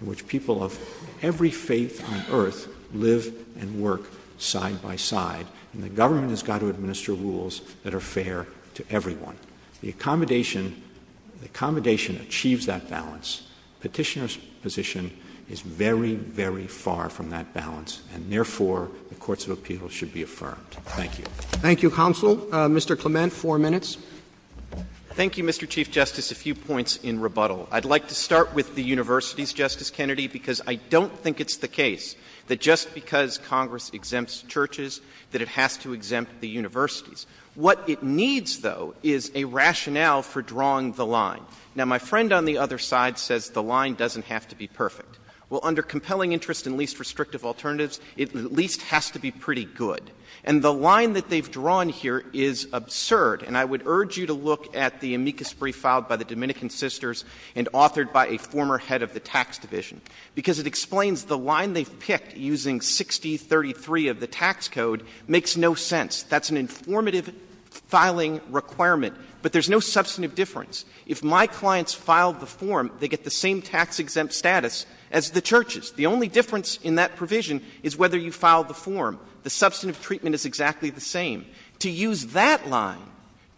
in which people of every faith on earth live and work side by side, and the government has got to administer rules that are fair to everyone. The accommodation – the accommodation achieves that balance. Petitioner's position is very, very far from that balance, and therefore the courts of appeals should be affirmed. Thank you. Thank you, counsel. Mr. Clement, four minutes. Thank you, Mr. Chief Justice. A few points in rebuttal. I'd like to start with the universities, Justice Kennedy, because I don't think it's the case that just because Congress exempts churches that it has to exempt the universities. What it needs, though, is a rationale for it. Well, under compelling interest and least restrictive alternatives, it at least has to be pretty good. And the line that they've drawn here is absurd, and I would urge you to look at the amicus brief filed by the Dominican Sisters and authored by a former head of the tax division, because it explains the line they've picked using 6033 of the tax code makes no sense. That's an informative filing requirement, but there's no substantive difference. If my clients filed the form, they get the same tax-exempt status as the churches. The only difference in that provision is whether you filed the form. The substantive treatment is exactly the same. To use that line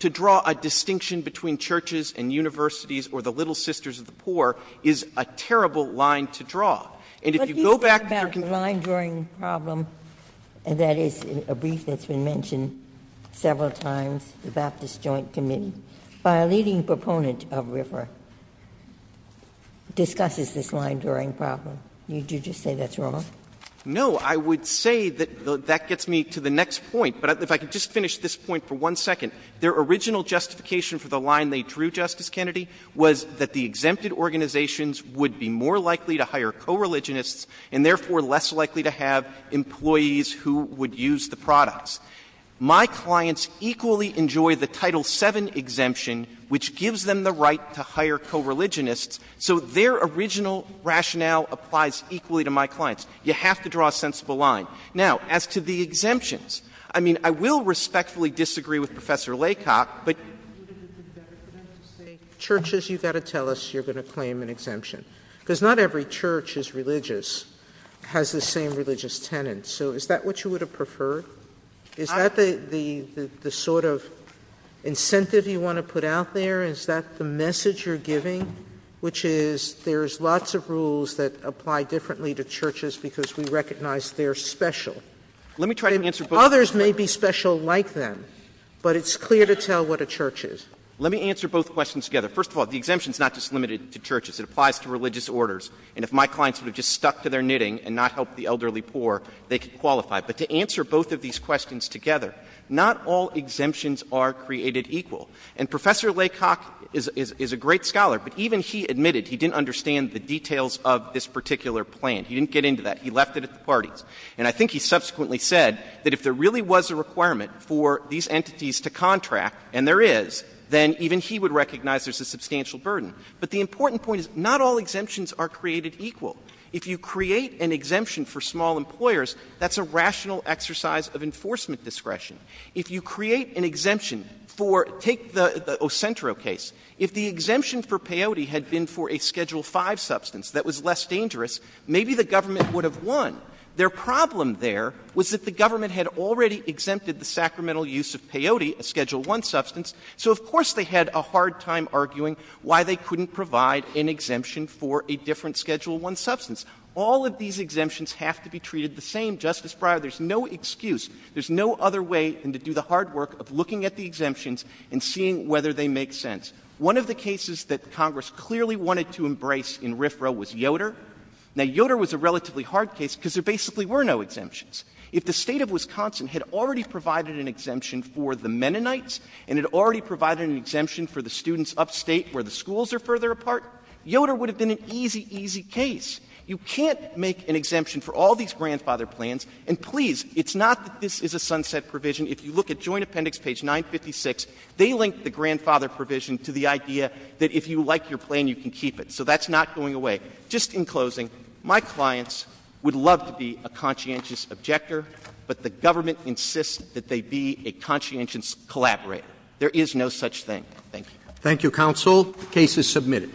to draw a distinction between churches and universities or the Little Sisters of the Poor is a terrible line to draw. And if you go back to— Let me talk about the line-drawing problem, and that is a brief that's been mentioned several times about this joint committee. A leading proponent of RIFRA discusses this line-drawing problem. Would you just say that's wrong? No. I would say that that gets me to the next point, but if I could just finish this point for one second. Their original justification for the line they drew, Justice Kennedy, was that the exempted organizations would be more likely to hire co-religionists and therefore less likely to have employees who would use the products. My clients equally enjoy the Title VII exemption, which gives them the right to hire co-religionists, so their original rationale applies equally to my clients. You have to draw a sensible line. Now, as to the exemptions, I mean, I will respectfully disagree with Professor Laycock, but— Churches, you've got to tell us you're going to claim an exemption, because not every church is religious, has the same religious tenets. So is that what you would have preferred? Is that the sort of incentive you want to put out there? Is that the message you're giving, which is there's lots of rules that apply differently to churches because we recognize they're special? Let me try to answer both— Others may be special like them, but it's clear to tell what a church is. Let me answer both questions together. First of all, the exemption is not just limited to churches. It applies to religious orders. And if my clients would have just stuck to their knitting and not helped the elderly poor, they could qualify. But to answer both of these questions together, not all exemptions are created equal. And Professor Laycock is a great scholar, but even he admitted he didn't understand the details of this particular plan. He didn't get into that. He left it at the parties. And I think he subsequently said that if there really was a requirement for these entities to contract, and there is, then even he would recognize there's a substantial burden. But the important point is not all exemptions are created equal. If you create an exemption for small employers, that's a rational exercise of enforcement discretion. If you create an exemption for—take the Ocentro case. If the exemption for peyote had been for a Schedule 5 substance that was less dangerous, maybe the government would have won. Their problem there was that the government had already exempted the sacramental use of provide an exemption for a different Schedule 1 substance. All of these exemptions have to be treated the same, Justice Breyer. There's no excuse. There's no other way than to do the hard work of looking at the exemptions and seeing whether they make sense. One of the cases that Congress clearly wanted to embrace in RFRA was Yoder. Now, Yoder was a relatively hard case because there basically were no exemptions. If the state of Wisconsin had already provided an exemption for the Mennonites and had already provided an exemption for the students upstate where the schools are further apart, Yoder would have been an easy, easy case. You can't make an exemption for all these grandfather plans. And please, it's not that this is a sunset provision. If you look at Joint Appendix page 956, they link the grandfather provision to the idea that if you like your plan, you can keep it. So that's not going away. Just in closing, my clients would love to be a conscientious objector, but the government insists that they be a conscientious collaborator. There is no such thing. Thank you.